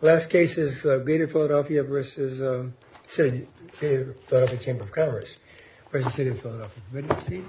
Last case is Beatty Philadelphia v. City of Philadelphia Chamber of Commerce v. City of Philadelphia Committee.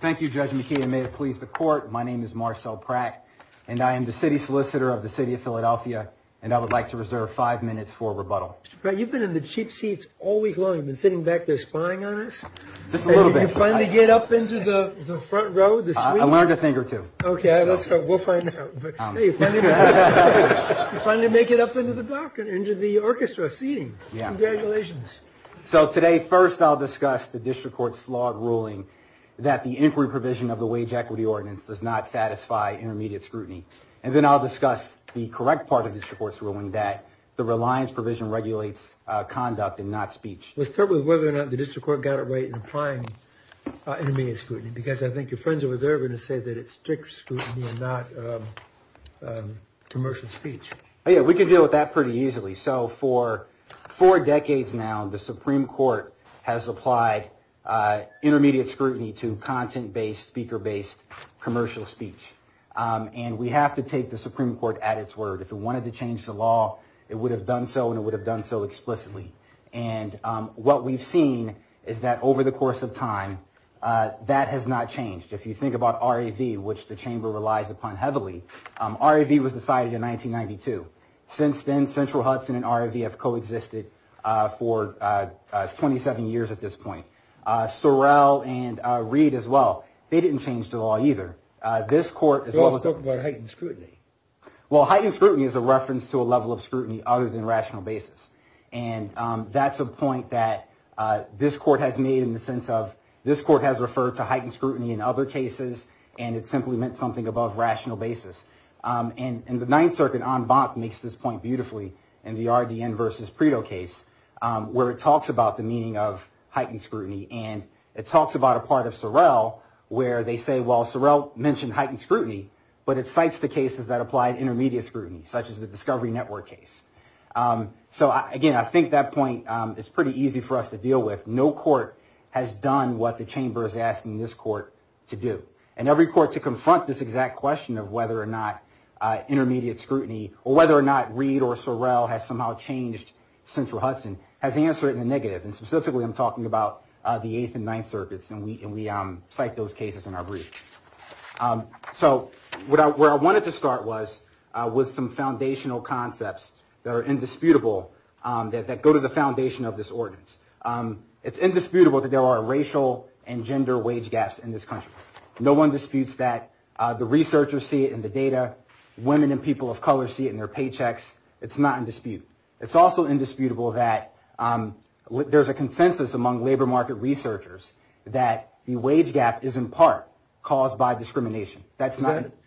Thank you Judge McKee and may it please the court, my name is Marcel Pratt and I am the City Solicitor of the City of Philadelphia and I would like to reserve five minutes for rebuttal. You've been in the cheap seats all week long, you've been sitting back there spying on us? Did you finally get up into the front row? I learned a thing or two. Okay, we'll find out. You finally make it up into the block, into the orchestra seating. Congratulations. So today first I'll discuss the district court's flawed ruling that the inquiry provision of the wage equity ordinance does not satisfy intermediate scrutiny. And then I'll discuss the correct part of the district court's ruling that the reliance provision regulates conduct and not speech. Let's start with whether or not the district court got it right in applying intermediate scrutiny. Because I think your friends at Reserva said that it's strict scrutiny and not commercial speech. Yeah, we can deal with that pretty easily. So for four decades now, the Supreme Court has applied intermediate scrutiny to content-based, speaker-based commercial speech. And we have to take the Supreme Court at its word. If it wanted to change the law, it would have done so and it would have done so explicitly. And what we've seen is that over the course of time, that has not changed. If you think about RAV, which the chamber relies upon heavily, RAV was decided in 1992. Since then, Central Hudson and RAV have coexisted for 27 years at this point. Sorrell and Reed as well, they didn't change the law either. They all talk about heightened scrutiny. Well, heightened scrutiny is a reference to a level of scrutiny other than rational basis. And that's a point that this court has made in the sense of this court has referred to heightened scrutiny in other cases and it simply meant something above rational basis. And the Ninth Circuit en banc makes this point beautifully in the RDN versus Predo case, where it talks about the meaning of heightened scrutiny. And it talks about a part of Sorrell where they say, well, Sorrell mentioned heightened scrutiny, but it cites the cases that applied intermediate scrutiny, such as the Discovery Network case. So, again, I think that point is pretty easy for us to deal with. No court has done what the chamber is asking this court to do. And every court to confront this exact question of whether or not intermediate scrutiny or whether or not Reed or Sorrell has somehow changed Central Hudson has answered in the negative. And specifically, I'm talking about the Eighth and Ninth Circuits, and we cite those cases in our briefs. So where I wanted to start was with some foundational concepts that are indisputable, that go to the foundation of this ordinance. It's indisputable that there are racial and gender wage gaps in this country. No one disputes that. The researchers see it in the data. Women and people of color see it in their paychecks. It's not in dispute. It's also indisputable that there's a consensus among labor market researchers that the wage gap is, in part, caused by discrimination. That's not it.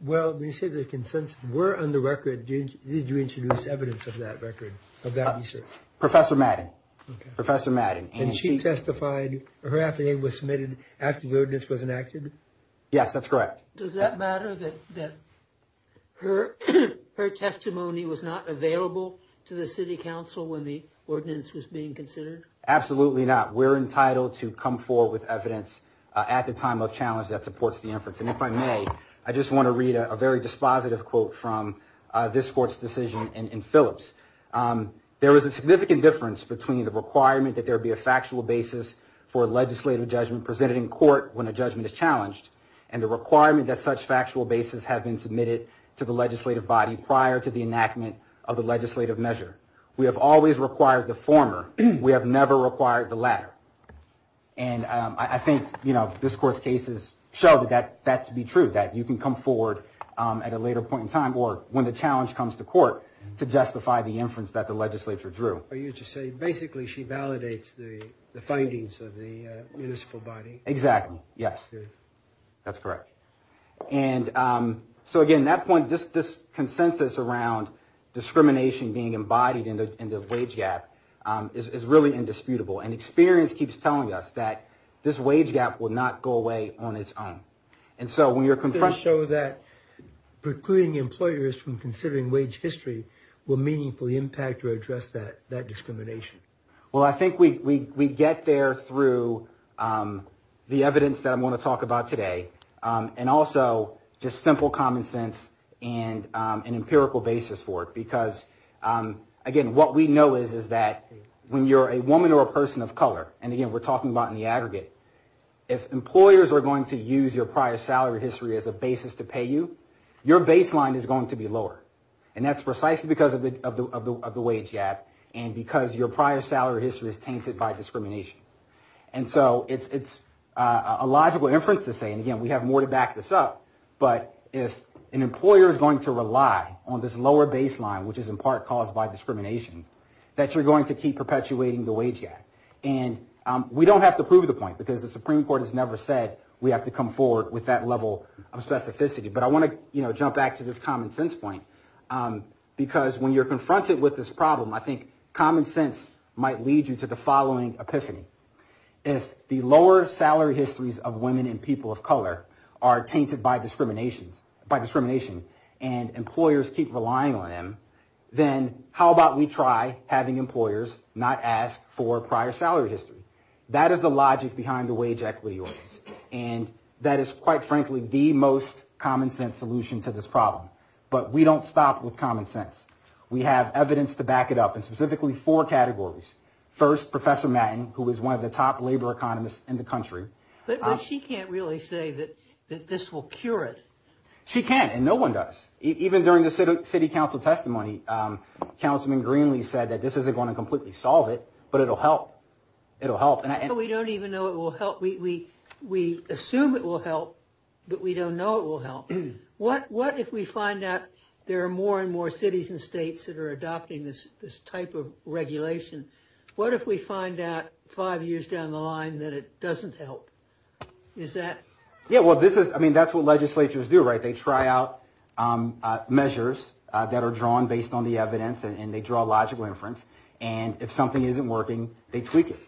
Well, you say there's a consensus. Where on the record did you introduce evidence of that record, of that research? Professor Madden. Okay. Professor Madden. And she testified. Her affidavit was submitted after the ordinance was enacted? Yes, that's correct. Does that matter that her testimony was not available to the city council when the ordinance was being considered? Absolutely not. We're entitled to come forward with evidence at the time of challenge that supports the inference. And if I may, I just want to read a very dispositive quote from this court's decision in Phillips. There is a significant difference between the requirement that there be a factual basis for a legislative judgment presented in court when a judgment is challenged and the requirement that such factual basis have been submitted to the legislative body prior to the enactment of the legislative measure. We have always required the former. We have never required the latter. And I think this court's cases show that that to be true, that you can come forward at a later point in time or when the challenge comes to court to justify the inference that the legislature drew. So you're just saying basically she validates the findings of the municipal body? Exactly, yes. That's correct. And so, again, that point, this consensus around discrimination being embodied in the wage gap is really indisputable. And experience keeps telling us that this wage gap will not go away on its own. And so when you're confronting... Does this show that precluding employers from considering wage history will meaningfully impact or address that discrimination? Well, I think we get there through the evidence that I want to talk about today and also just simple common sense and an empirical basis for it. Because, again, what we know is that when you're a woman or a person of color, and, again, we're talking about in the aggregate, if employers are going to use your prior salary history as a basis to pay you, your baseline is going to be lower. And that's precisely because of the wage gap and because your prior salary history is tainted by discrimination. And so it's a logical inference to say, and, again, we have more to back this up, but if an employer is going to rely on this lower baseline, which is in part caused by discrimination, that you're going to keep perpetuating the wage gap. And we don't have to prove the point because the Supreme Court has never said we have to come forward with that level of specificity. But I want to jump back to this common sense point because when you're confronted with this problem, I think common sense might lead you to the following epiphany. If the lower salary histories of women and people of color are tainted by discrimination and employers keep relying on them, then how about we try having employers not ask for prior salary histories? That is the logic behind the wage equity. And that is, quite frankly, the most common sense solution to this problem. But we don't stop with common sense. We have evidence to back it up in specifically four categories. First, Professor Matten, who is one of the top labor economists in the country. But she can't really say that this will cure it. She can't, and no one does. Even during the city council testimony, Councilman Greenlee said that this isn't going to completely solve it, but it'll help. It'll help. So we don't even know it will help. We assume it will help, but we don't know it will help. What if we find out there are more and more cities and states that are adopting this type of regulation? What if we find out five years down the line that it doesn't help? Yeah, well, I mean, that's what legislatures do, right? They try out measures that are drawn based on the evidence, and they draw a logical inference. And if something isn't working, they tweak it.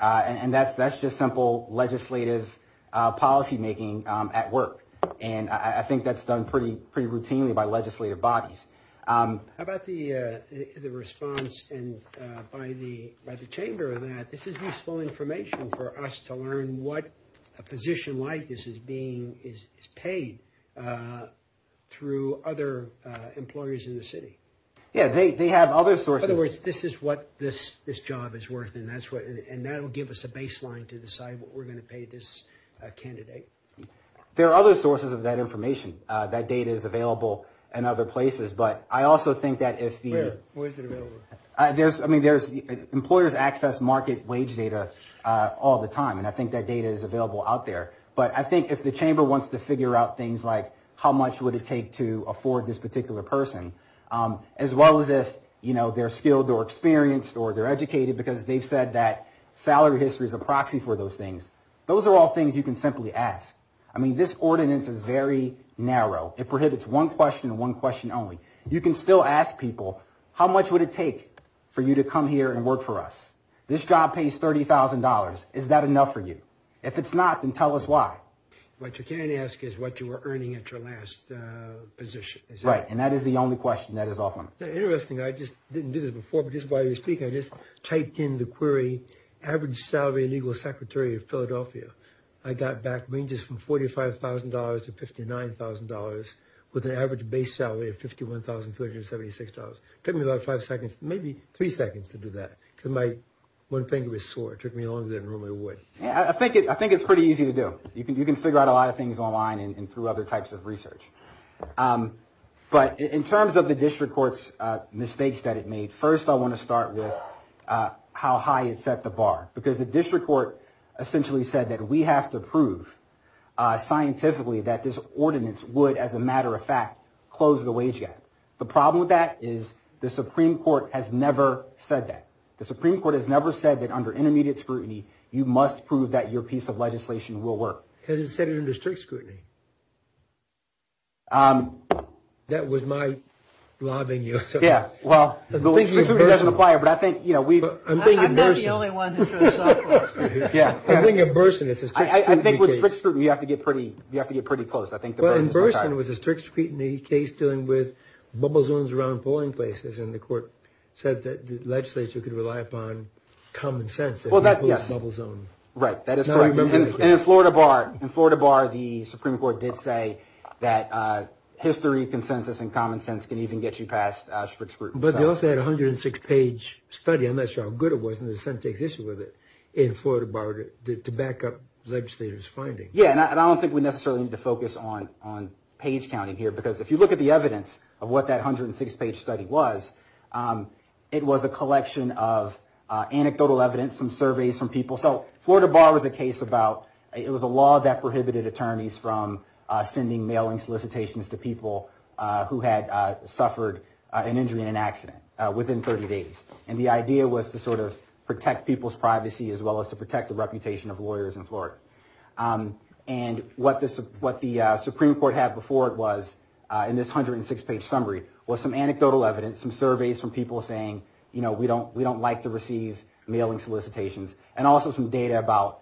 And that's just simple legislative policymaking at work. And I think that's done pretty routinely by legislative bodies. How about the response by the chamber of that? This is useful information for us to learn what a position like this is being paid through other employers in the city. Yeah, they have other sources. In other words, this is what this job is worth, and that'll give us a baseline to decide what we're going to pay this candidate. There are other sources of that information. That data is available in other places. But I also think that if the employers access market wage data all the time, and I think that data is available out there. But I think if the chamber wants to figure out things like how much would it take to afford this particular person, as well as if they're skilled or experienced or they're educated because they've said that salary history is a proxy for those things, those are all things you can simply ask. I mean, this ordinance is very narrow. It prohibits one question and one question only. You can still ask people, how much would it take for you to come here and work for us? This job pays $30,000. Is that enough for you? If it's not, then tell us why. What you can ask is what you were earning at your last position. Right, and that is the only question. That is all. Interesting. I just didn't do this before, but just while you're speaking, I just typed in the query average salary legal secretary of Philadelphia. I got back ranges from $45,000 to $59,000 with an average base salary of $51,376. It took me about five seconds, maybe three seconds to do that. One finger was sore. It took me longer than I normally would. I think it's pretty easy to do. You can figure out a lot of things online and through other types of research. But in terms of the district court's mistakes that it made, first I want to start with how high it set the bar. Because the district court essentially said that we have to prove scientifically that this ordinance would, as a matter of fact, close the wage gap. The problem with that is the Supreme Court has never said that. The Supreme Court has never said that under intermediate scrutiny, you must prove that your piece of legislation will work. Because it said it under strict scrutiny. That was my lobbying you. I'm not the only one who threw a softball. I think with strict scrutiny, you have to get pretty close. In Burson, it was a strict scrutiny case dealing with bubble zones around polling places, and the court said that the legislature could rely upon common sense. In Florida Bar, the Supreme Court did say that history, consensus, and common sense can even get you past strict scrutiny. But they also had a 106-page study. I'm not sure how good it was, and the Senate takes issue with it. In Florida Bar, to back up the legislature's finding. Yes, and I don't think we necessarily need to focus on page counting here, because if you look at the evidence of what that 106-page study was, it was a collection of anecdotal evidence, some surveys from people. So Florida Bar was a case about it was a law that prohibited attorneys from sending mailing solicitations to people who had suffered an injury in an accident within 30 days. And the idea was to sort of protect people's privacy, as well as to protect the reputation of lawyers in Florida. And what the Supreme Court had before it was, in this 106-page summary, was some anecdotal evidence, some surveys from people saying, you know, we don't like to receive mailing solicitations, and also some data about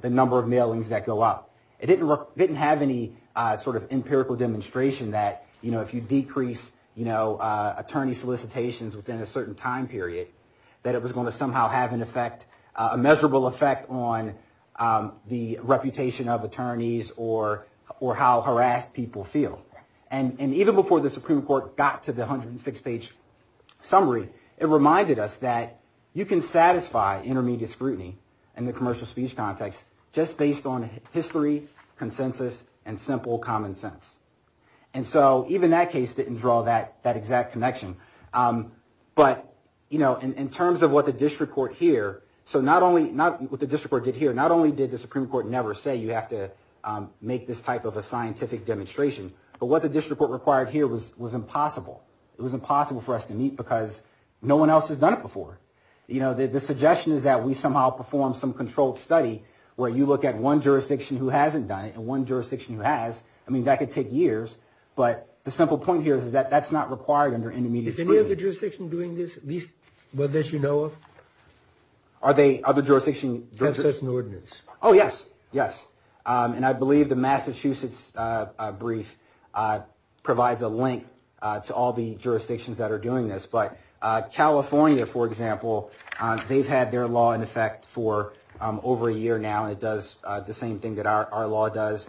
the number of mailings that go up. It didn't have any sort of empirical demonstration that, you know, if you decrease attorney solicitations within a certain time period, that it was going to somehow have an effect, a measurable effect, on the reputation of attorneys or how harassed people feel. And even before the Supreme Court got to the 106-page summary, it reminded us that you can satisfy intermediate scrutiny in the commercial speech context just based on history, consensus, and simple common sense. And so even that case didn't draw that exact connection. But, you know, in terms of what the district court here, so not only what the district court did here, not only did the Supreme Court never say you have to make this type of a scientific demonstration, but what the district court required here was impossible. It was impossible for us to meet because no one else has done it before. You know, the suggestion is that we somehow perform some controlled study where you look at one jurisdiction who hasn't done it and one jurisdiction who has. I mean, that could take years. But the simple point here is that that's not required under intermediate scrutiny. Is any other jurisdiction doing this, at least one that you know of? Are there other jurisdictions? Do you have such an ordinance? Oh, yes, yes. And I believe the Massachusetts brief provides a link to all the jurisdictions that are doing this. But California, for example, they've had their law in effect for over a year now. It does the same thing that our law does.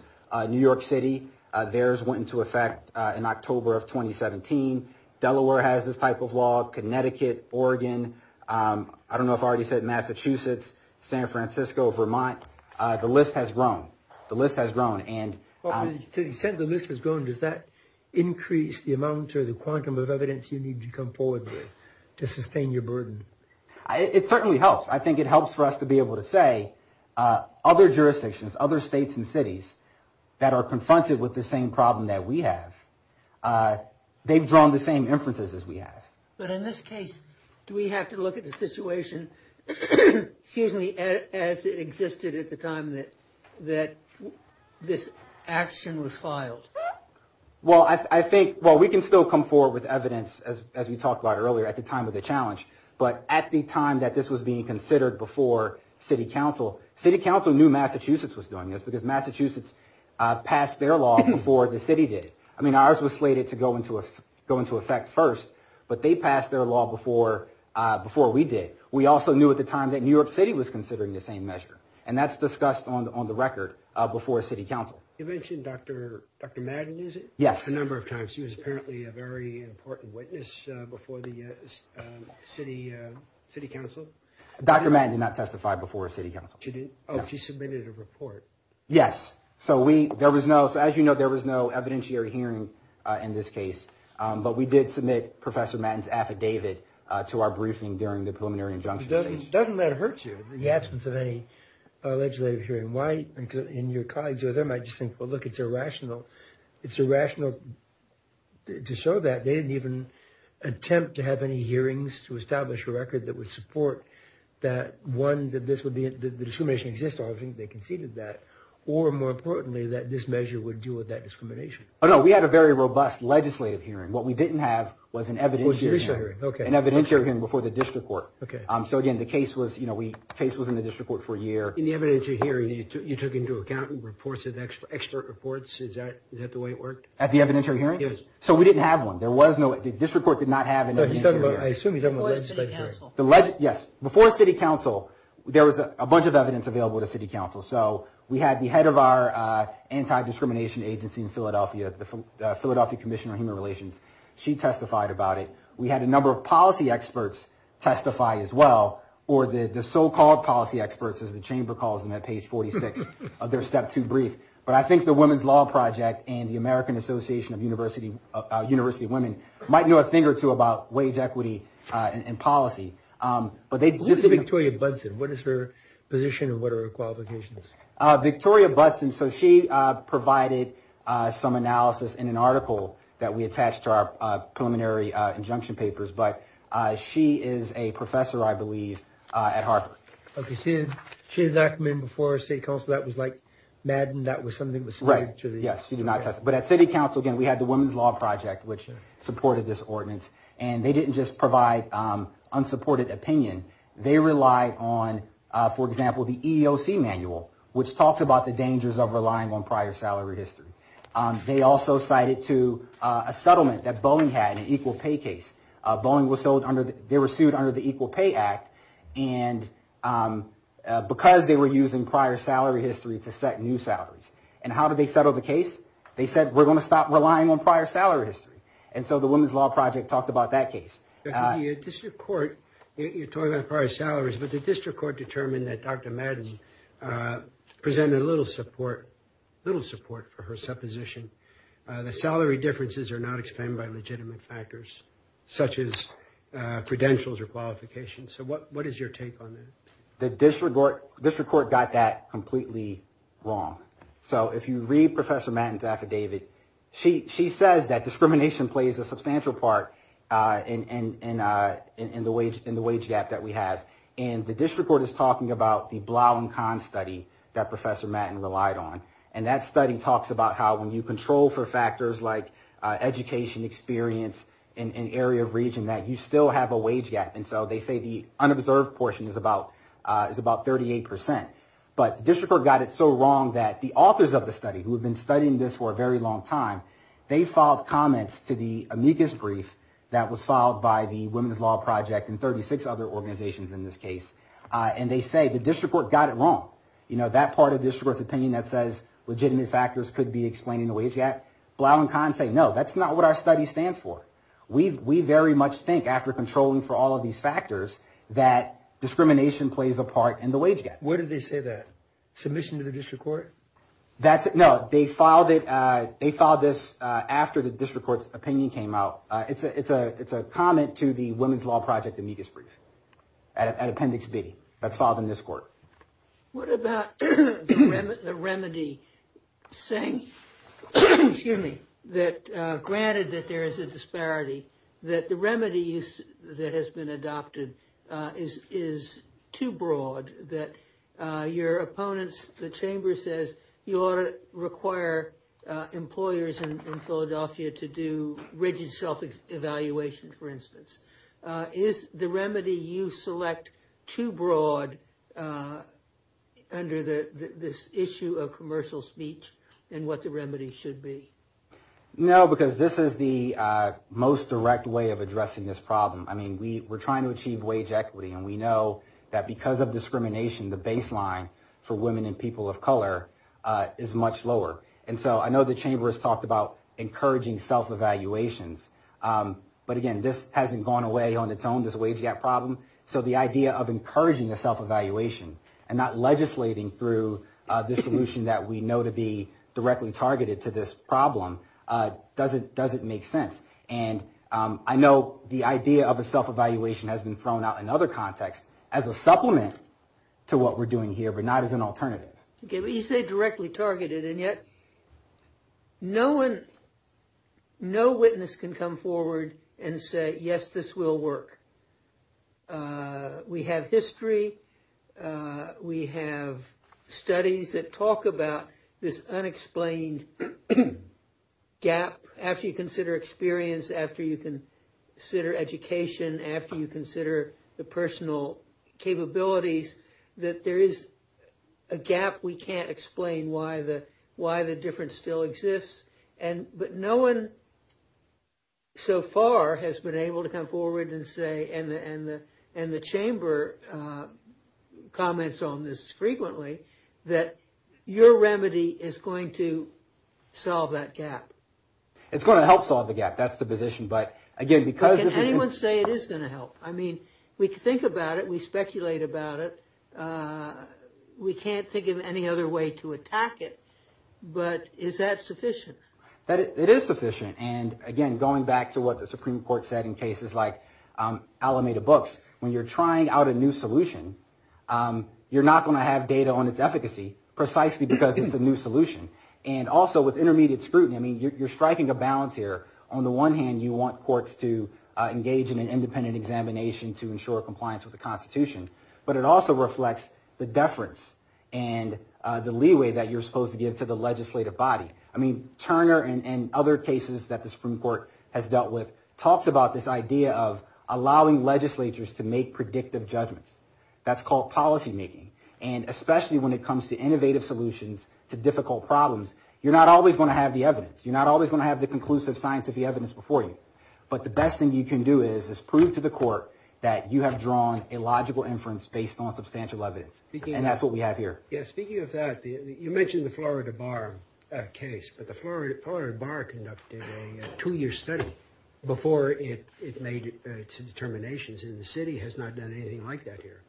New York City, theirs went into effect in October of 2017. Delaware has this type of law. Connecticut, Oregon. I don't know if I already said Massachusetts, San Francisco, Vermont. The list has grown. The list has grown. Since the list has grown, does that increase the amount or the quantum of evidence you need to come forward with to sustain your burden? It certainly helps. I think it helps for us to be able to say other jurisdictions, other states and cities that are confronted with the same problem that we have, they've drawn the same inferences as we have. But in this case, do we have to look at the situation as it existed at the time that this action was filed? Well, we can still come forward with evidence, as we talked about earlier, at the time of the challenge. But at the time that this was being considered before city council, city council knew Massachusetts was doing this because Massachusetts passed their law before the city did. I mean, ours was slated to go into effect first, but they passed their law before we did. We also knew at the time that New York City was considering the same measure. And that's discussed on the record before city council. You mentioned Dr. Madden, is it? Yes. A number of times. She was apparently a very important witness before the city council. Dr. Madden did not testify before city council. She did? Oh, she submitted a report. Yes. So as you know, there was no evidentiary hearing in this case. But we did submit Professor Madden's affidavit to our briefing during the preliminary injunction. It doesn't matter her too, in the absence of any legislative hearing. Why? Because in your colleagues or them, I just think, well, look, it's irrational. It's irrational to show that. They didn't even attempt to have any hearings to establish a record that would support that one, or more importantly, that this measure would deal with that discrimination. Oh, no, we had a very robust legislative hearing. What we didn't have was an evidentiary hearing before the district court. So again, the case was in the district court for a year. In the evidentiary hearing, you took into account reports of expert reports. Is that the way it worked? At the evidentiary hearing? Yes. So we didn't have one. The district court did not have an evidentiary hearing. I assume you're talking about legislative hearings. Yes. Before city council, there was a bunch of evidence available to city council. So we had the head of our anti-discrimination agency in Philadelphia, the Philadelphia Commission on Human Relations. She testified about it. We had a number of policy experts testify as well, or the so-called policy experts as the chamber calls them at page 46 of their Step 2 brief. But I think the Women's Law Project and the American Association of University Women might know a thing or two about wage equity and policy. Who is Victoria Budson? What is her position and what are her qualifications? Victoria Budson, so she provided some analysis in an article that we attached to our preliminary injunction papers. But she is a professor, I believe, at Harvard. Okay. She did not come in before city council. That was like Madden. That was something that was submitted to the- Right. Yes. She did not testify. But at city council, again, we had the Women's Law Project, which supported this ordinance. And they didn't just provide unsupported opinion. They relied on, for example, the EEOC manual, which talks about the dangers of relying on prior salary history. They also cited to a settlement that Boeing had, an equal pay case. Boeing was sued under the Equal Pay Act, and because they were using prior salary history to set new salaries. And how did they settle the case? They said, we're going to stop relying on prior salaries. And so the Women's Law Project talked about that case. The district court, you're talking about prior salaries, but the district court determined that Dr. Madden presented little support for her supposition. The salary differences are not explained by legitimate factors, such as credentials or qualifications. So what is your take on that? The district court got that completely wrong. So if you read Professor Madden's affidavit, she says that discrimination plays a substantial part in the wage gap that we have. And the district court is talking about the Blaum-Kahn study that Professor Madden relied on. And that study talks about how when you control for factors like education, experience, and area of region, that you still have a wage gap. And so they say the unobserved portion is about 38%. But district court got it so wrong that the authors of the study, who have been studying this for a very long time, they filed comments to the amicus brief that was filed by the Women's Law Project and 36 other organizations in this case. And they say the district court got it wrong. That part of district court's opinion that says legitimate factors could be explaining the wage gap, Blaum-Kahn said, no, that's not what our study stands for. We very much think, after controlling for all of these factors, that discrimination plays a part in the wage gap. Where did they say that? Submission to the district court? No, they filed this after the district court's opinion came out. It's a comment to the Women's Law Project amicus brief at Appendix D that's filed in this court. What about the remedy saying that, granted that there is a disparity, that the remedy that has been adopted is too broad, that your opponents, the chamber says, you ought to require employers in Philadelphia to do rigid self-evaluation, for instance. Is the remedy you select too broad under this issue of commercial speech than what the remedy should be? No, because this is the most direct way of addressing this problem. I mean, we're trying to achieve wage equity, and we know that because of discrimination, the baseline for women and people of color is much lower. And so I know the chamber has talked about encouraging self-evaluations. But, again, this hasn't gone away on its own, this wage gap problem. So the idea of encouraging the self-evaluation and not legislating through the solution that we know to be directly targeted to this problem doesn't make sense. And I know the idea of a self-evaluation has been thrown out in other contexts as a supplement to what we're doing here, but not as an alternative. You say directly targeted, and yet no witness can come forward and say, yes, this will work. We have history. We have studies that talk about this unexplained gap after you consider experience, after you consider education, after you consider the personal capabilities, that there is a gap. We can't explain why the difference still exists. But no one so far has been able to come forward and say, and the chamber comments on this frequently, that your remedy is going to solve that gap. It's going to help solve the gap. That's the position. But, again, because of the gap... Can anyone say it is going to help? I mean, we think about it. We speculate about it. We can't think of any other way to attack it. But is that sufficient? It is sufficient. And, again, going back to what the Supreme Court said in cases like Alameda Books, when you're trying out a new solution, you're not going to have data on its efficacy, precisely because it's a new solution. And also with intermediate scrutiny, I mean, you're striking a balance here. On the one hand, you want courts to engage in an independent examination to ensure compliance with the Constitution, but it also reflects the deference and the leeway that you're supposed to give to the legislative body. I mean, Turner and other cases that the Supreme Court has dealt with talked about this idea of allowing legislatures to make predictive judgments. That's called policymaking. And especially when it comes to innovative solutions to difficult problems, you're not always going to have the evidence. But the best thing you can do is prove to the court that you have drawn a logical inference based on substantial evidence, and that's what we have here. Speaking of that, you mentioned the Florida Bar case, but the Florida Bar conducted a two-year study before it made its determinations, and the city has not done anything like that here.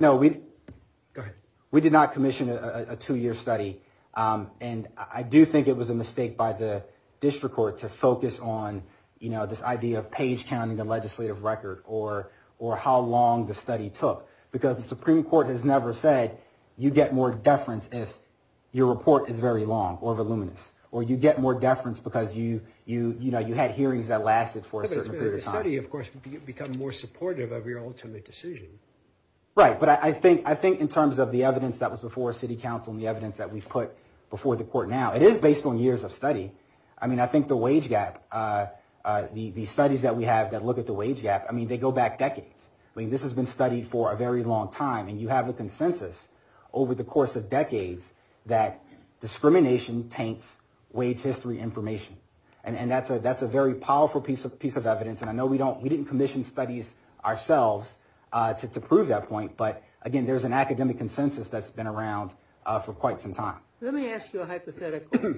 No, we did not commission a two-year study. And I do think it was a mistake by the district court to focus on this idea of page counting the legislative record or how long the study took, because the Supreme Court has never said, you get more deference if your report is very long or voluminous, or you get more deference because you had hearings that lasted for a certain period of time. The city, of course, becomes more supportive of your ultimate decision. Right, but I think in terms of the evidence that was before city council and the evidence that we've put before the court now, it is based on years of study. I mean, I think the wage gap, the studies that we have that look at the wage gap, I mean, they go back decades. I mean, this has been studied for a very long time, and you have the consensus over the course of decades that discrimination paints wage history information, and that's a very powerful piece of evidence. And I know we didn't commission studies ourselves to prove that point, but, again, there's an academic consensus that's been around for quite some time. Let me ask you a hypothetical.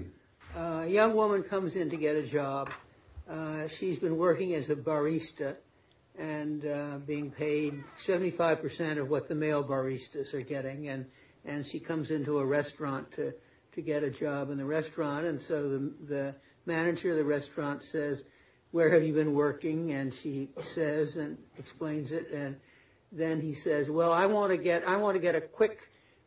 A young woman comes in to get a job. She's been working as a barista and being paid 75% of what the male baristas are getting, and she comes into a restaurant to get a job in the restaurant, and so the manager of the restaurant says, where have you been working? And she says and explains it, and then he says, well, I want to get a quick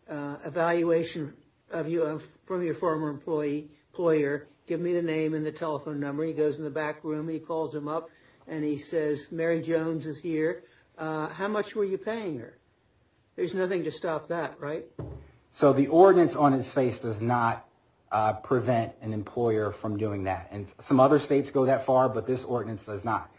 evaluation of you from your former employer. Give me the name and the telephone number. He goes in the back room. He pulls him up, and he says, Mary Jones is here. How much were you paying her? There's nothing to stop that, right? So the ordinance on his face does not prevent an employer from doing that, and some other states go that far, but this ordinance does not.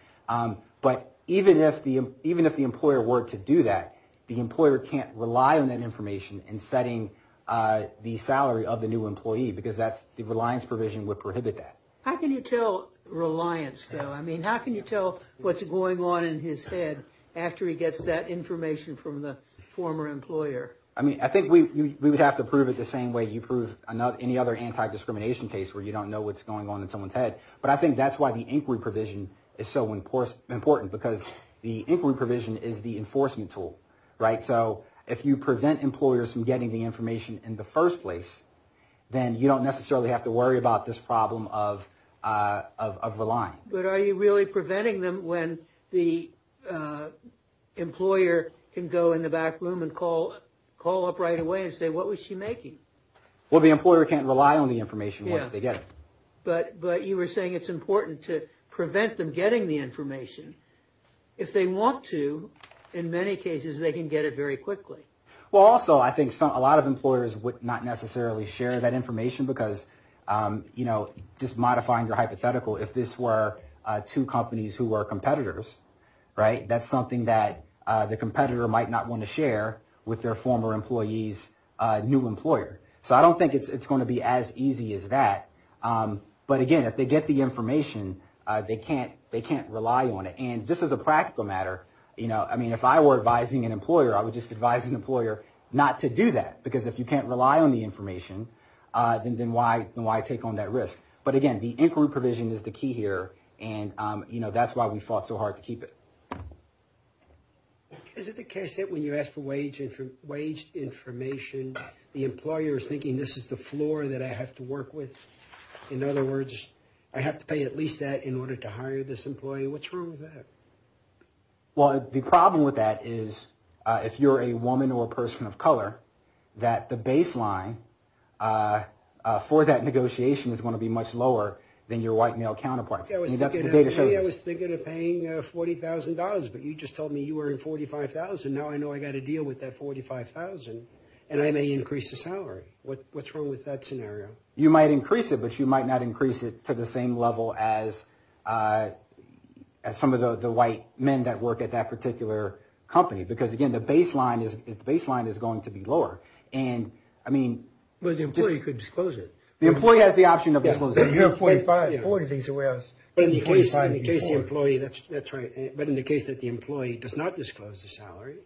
But even if the employer were to do that, the employer can't rely on that information in setting the salary of the new employee because the reliance provision would prohibit that. How can you tell reliance, though? I mean, how can you tell what's going on in his head after he gets that information from the former employer? I mean, I think we would have to prove it the same way you prove any other anti-discrimination case where you don't know what's going on in someone's head, but I think that's why the inquiry provision is so important because the inquiry provision is the enforcement tool, right? So if you prevent employers from getting the information in the first place, then you don't necessarily have to worry about this problem of reliance. But are you really preventing them when the employer can go in the back room and call up right away and say, what was she making? Well, the employer can't rely on the information once they get it. But you were saying it's important to prevent them getting the information. If they want to, in many cases, they can get it very quickly. Well, also, I think a lot of employers would not necessarily share that information because, you know, just modifying your hypothetical, if this were two companies who are competitors, right, that's something that the competitor might not want to share with their former employee's new employer. So I don't think it's going to be as easy as that. But, again, if they get the information, they can't rely on it. And this is a practical matter. You know, I mean, if I were advising an employer, I would just advise an employer not to do that because if you can't rely on the information, then why take on that risk? But, again, the inquiry provision is the key here, and, you know, that's why we fought so hard to keep it. Is it the case that when you ask for wage information, the employer is thinking this is the floor that I have to work with? In other words, I have to pay at least that in order to hire this employee? What's wrong with that? Well, the problem with that is if you're a woman or a person of color, that the baseline for that negotiation is going to be much lower than your white male counterpart. Maybe I was thinking of paying $40,000, but you just told me you were in $45,000. Now I know I've got to deal with that $45,000, and I may increase the salary. What's wrong with that scenario? You might increase it, but you might not increase it to the same level as some of the white men that work at that particular company because, again, the baseline is going to be lower. And, I mean... But the employee could disclose it. The employee has the option of disclosing it. If you're $45,000, $40,000 is where else? In the case of the employee, that's right. But in the case that the employee does not disclose the salary,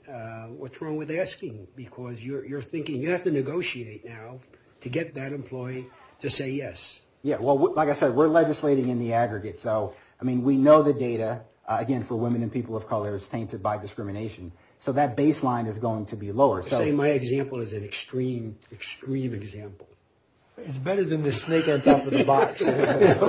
what's wrong with asking? Because you're thinking you have to negotiate now to get that employee to say yes. Yeah, well, like I said, we're legislating in the aggregate. So, I mean, we know the data, again, for women and people of color is tainted by discrimination. So that baseline is going to be lower. My example is an extreme, extreme example. It's better than the snake on top of the box. And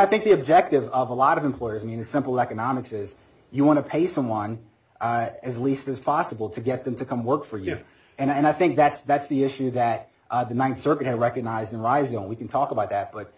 I think the objective of a lot of employers, I mean, in simple economics, is you want to pay someone as least as possible to get them to come work for you. And I think that's the issue that the Ninth Circuit had recognized in Risen. We can talk about that. But,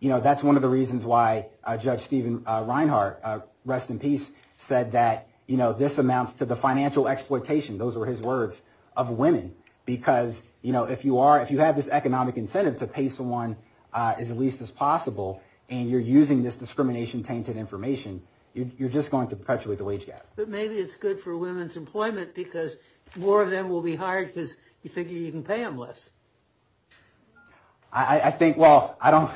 you know, that's one of the reasons why Judge Steven Reinhart, rest in peace, said that, you know, this amounts to the financial exploitation, those were his words, of women. Because, you know, if you have this economic incentive to pay someone as least as possible, and you're using this discrimination-tainted information, you're just going to perpetuate the wage gap. But maybe it's good for women's employment because more of them will be hired because you figure you can pay them less. I think, well, I don't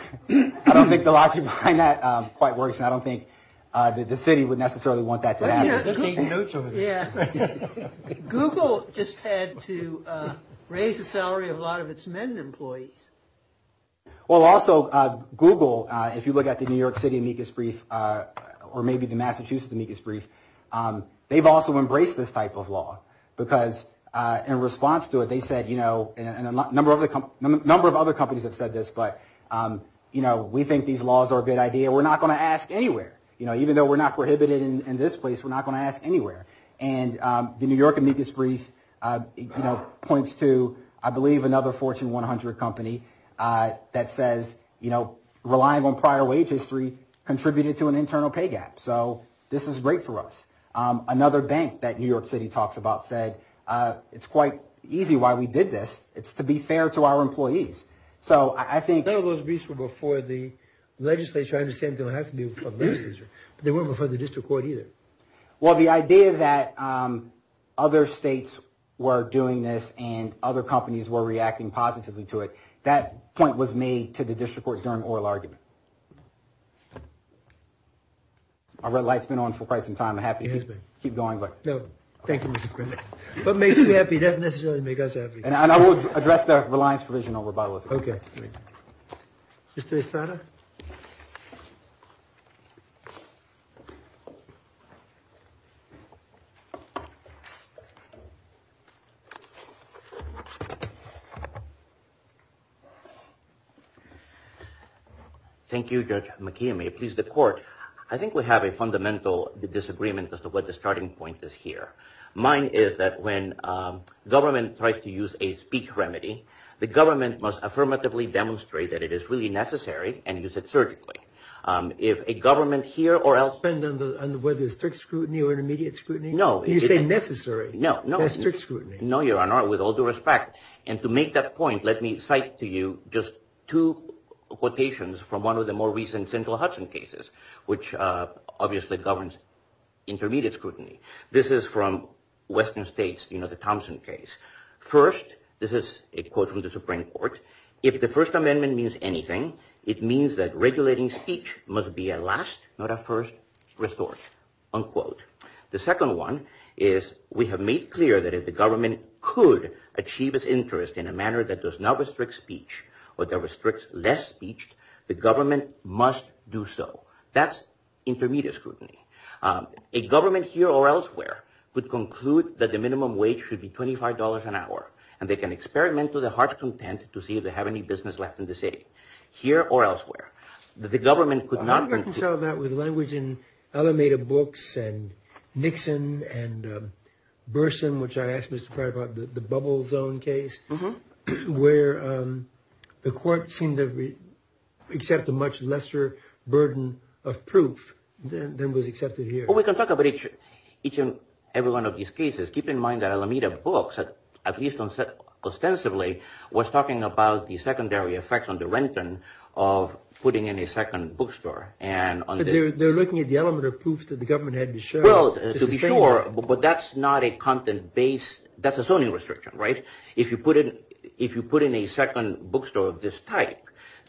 think the logic behind that quite works. I don't think the city would necessarily want that to happen. Yeah. Google just had to raise the salary of a lot of its men employees. Well, also, Google, if you look at the New York City amicus brief, or maybe the Massachusetts amicus brief, they've also embraced this type of law because in response to it, they said, you know, and a number of other companies have said this, but, you know, we think these laws are a bad idea. We're not going to ask anywhere. You know, even though we're not prohibited in this place, we're not going to ask anywhere. And the New York amicus brief, you know, points to, I believe, another Fortune 100 company that says, you know, relying on prior wage history contributed to an internal pay gap. So this is great for us. Another bank that New York City talks about said, it's quite easy why we did this. It's to be fair to our employees. So I think... But they weren't before the district court either. Well, the idea that other states were doing this and other companies were reacting positively to it, that point was made to the district court during oral argument. Our red light's been on for quite some time. I'm happy to keep going, but... No, thank you, Mr. Crenshaw. What makes you happy doesn't necessarily make us happy. And I will address the reliance provision over by... Okay. Mr. Estrada? Thank you. Thank you, Judge McKeon. May it please the court. I think we have a fundamental disagreement as to what the starting point is here. Mine is that when government tries to use a speech remedy, the government must affirmatively demonstrate that it is really necessary and use it surgically. If a government here or else... Does it depend on whether it's strict scrutiny or intermediate scrutiny? No. Do you say necessary? No. That's strict scrutiny. No, Your Honor, with all due respect. And to make that point, let me cite to you just two quotations from one of the more recent central Hudson cases, which obviously governs intermediate scrutiny. This is from Western States, the Thompson case. First, this is a quote from the Supreme Court. If the First Amendment means anything, it means that regulating speech must be a last, not a first, resource, unquote. The second one is we have made clear that if the government could achieve its interest in a manner that does not restrict speech or that restricts less speech, the government must do so. That's intermediate scrutiny. A government here or elsewhere would conclude that the minimum wage should be $25 an hour, and they can experiment to their heart's content to see if they have any business left in the city. Here or elsewhere. The government could not... I'm not sure if you saw that with language in Alameda Books and Nixon and Burson, which I asked Mr. Clark about, the bubble zone case, where the court seemed to accept a much lesser burden of proof than was accepted here. Well, we can talk about each and every one of these cases. Keep in mind that Alameda Books, at least ostensibly, was talking about the secondary effects on the Renton of putting in a second bookstore. They're looking at the element of proof that the government had to show. Well, to be sure, but that's not a content-based... That's a zoning restriction, right? If you put in a second bookstore of this type,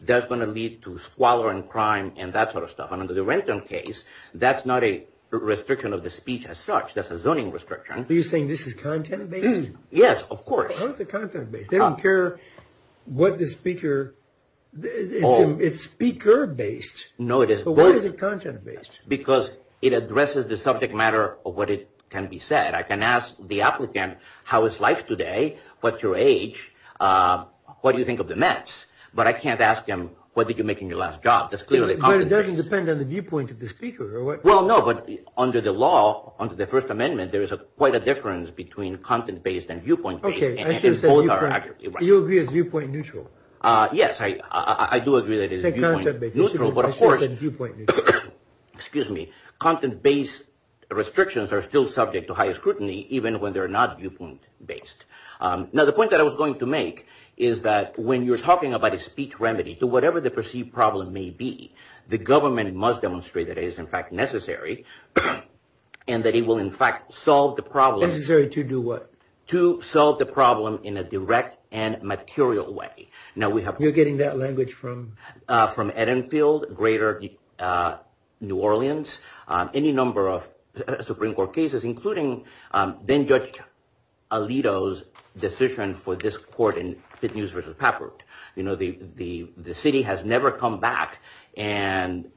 that's going to lead to squalor and crime and that sort of stuff. Under the Renton case, that's not a restriction of the speech as such. That's a zoning restriction. Are you saying this is content-based? Yes, of course. How is it content-based? They don't care what the speaker... It's speaker-based. No, it is both. But why is it content-based? Because it addresses the subject matter of what can be said. I can ask the applicant, how is life today? What's your age? What do you think of the Mets? But I can't ask him, what did you make in your last job? That's clearly content-based. But it doesn't depend on the viewpoint of the speaker or what... Well, no, but under the law, under the First Amendment, there is quite a difference between content-based and viewpoint-based. Okay. You agree it's viewpoint-neutral. Yes, I do agree that it is viewpoint-neutral, but of course... Excuse me. Content-based restrictions are still subject to high scrutiny even when they're not viewpoint-based. Now, the point that I was going to make is that when you're talking about a speech remedy, whatever the perceived problem may be, the government must demonstrate that it is, in fact, necessary and that it will, in fact, solve the problem... Necessary to do what? To solve the problem in a direct and material way. Now, we have... You're getting that language from... From Edenfield, Greater New Orleans, any number of Supreme Court cases, including then-Judge Alito's decision for this court in Fitnews v. Papert. You know, the city has never come back and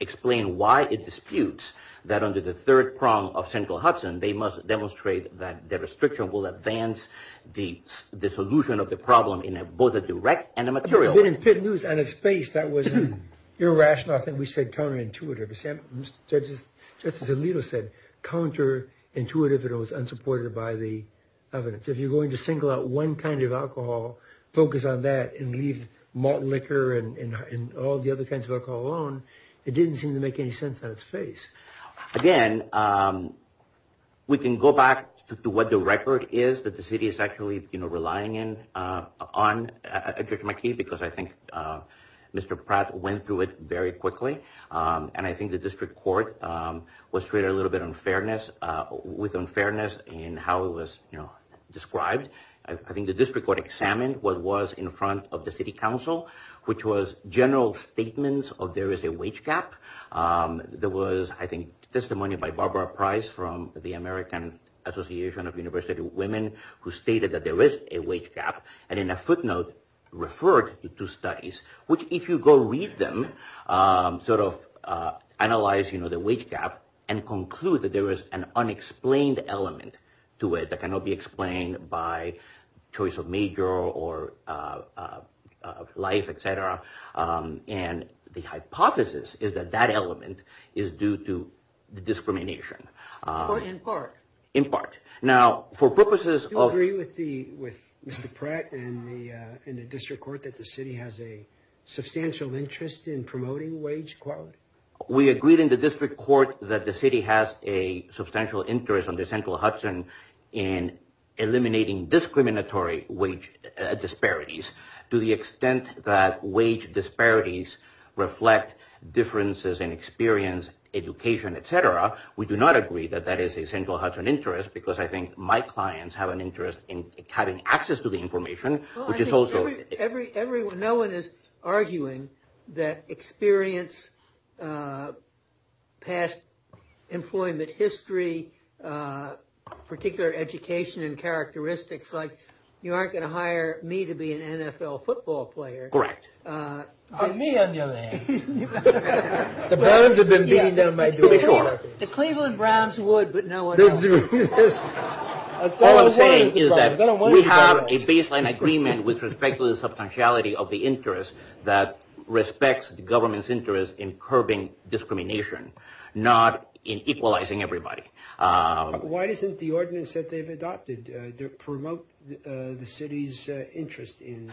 explained why it disputes that under the third prong of central Hudson, they must demonstrate that their restriction will advance the solution of the problem in both a direct and a material way. In Fitnews, out of space, that was irrational. I think we said counterintuitive. Judge Alito said counterintuitive and it was unsupported by the evidence. If you're going to single out one kind of alcohol, focus on that and leave malt liquor and all the other kinds of alcohol alone, it didn't seem to make any sense out of space. Again, we can go back to what the record is that the city is actually relying in on, because I think Mr. Pratt went through it very quickly and I think the district court was treated a little bit unfairness, with unfairness in how it was described. I think the district court examined what was in front of the city council, which was general statements of there is a wage gap. There was, I think, testimony by Barbara Price from the American Association of University Women who stated that there is a wage gap and in a footnote referred to studies, which if you go read them, sort of analyze the wage gap and conclude that there is an unexplained element to it that cannot be explained by choice of major or life, et cetera, and the hypothesis is that that element is due to discrimination. In part. In part. Now, for purposes of... Do you agree with Mr. Pratt and the district court that the city has a substantial interest in promoting wage equality? We agreed in the district court that the city has a substantial interest in eliminating discriminatory wage disparities to the extent that wage disparities reflect differences in experience, education, et cetera. We do not agree that that is a central hub of interest because I think my clients have an interest in having access to the information, which is also... No one is arguing that experience, past employment history, particular education and characteristics, but you aren't going to hire me to be an NFL football player. Correct. I may underline. The Browns have been beating down my door. The Cleveland Browns would, but no one else. All I'm saying is that we have a baseline agreement with respect to the substantiality of the interest that respects the government's interest in curbing discrimination, not in equalizing everybody. Why doesn't the ordinance that they've adopted promote the city's interest in...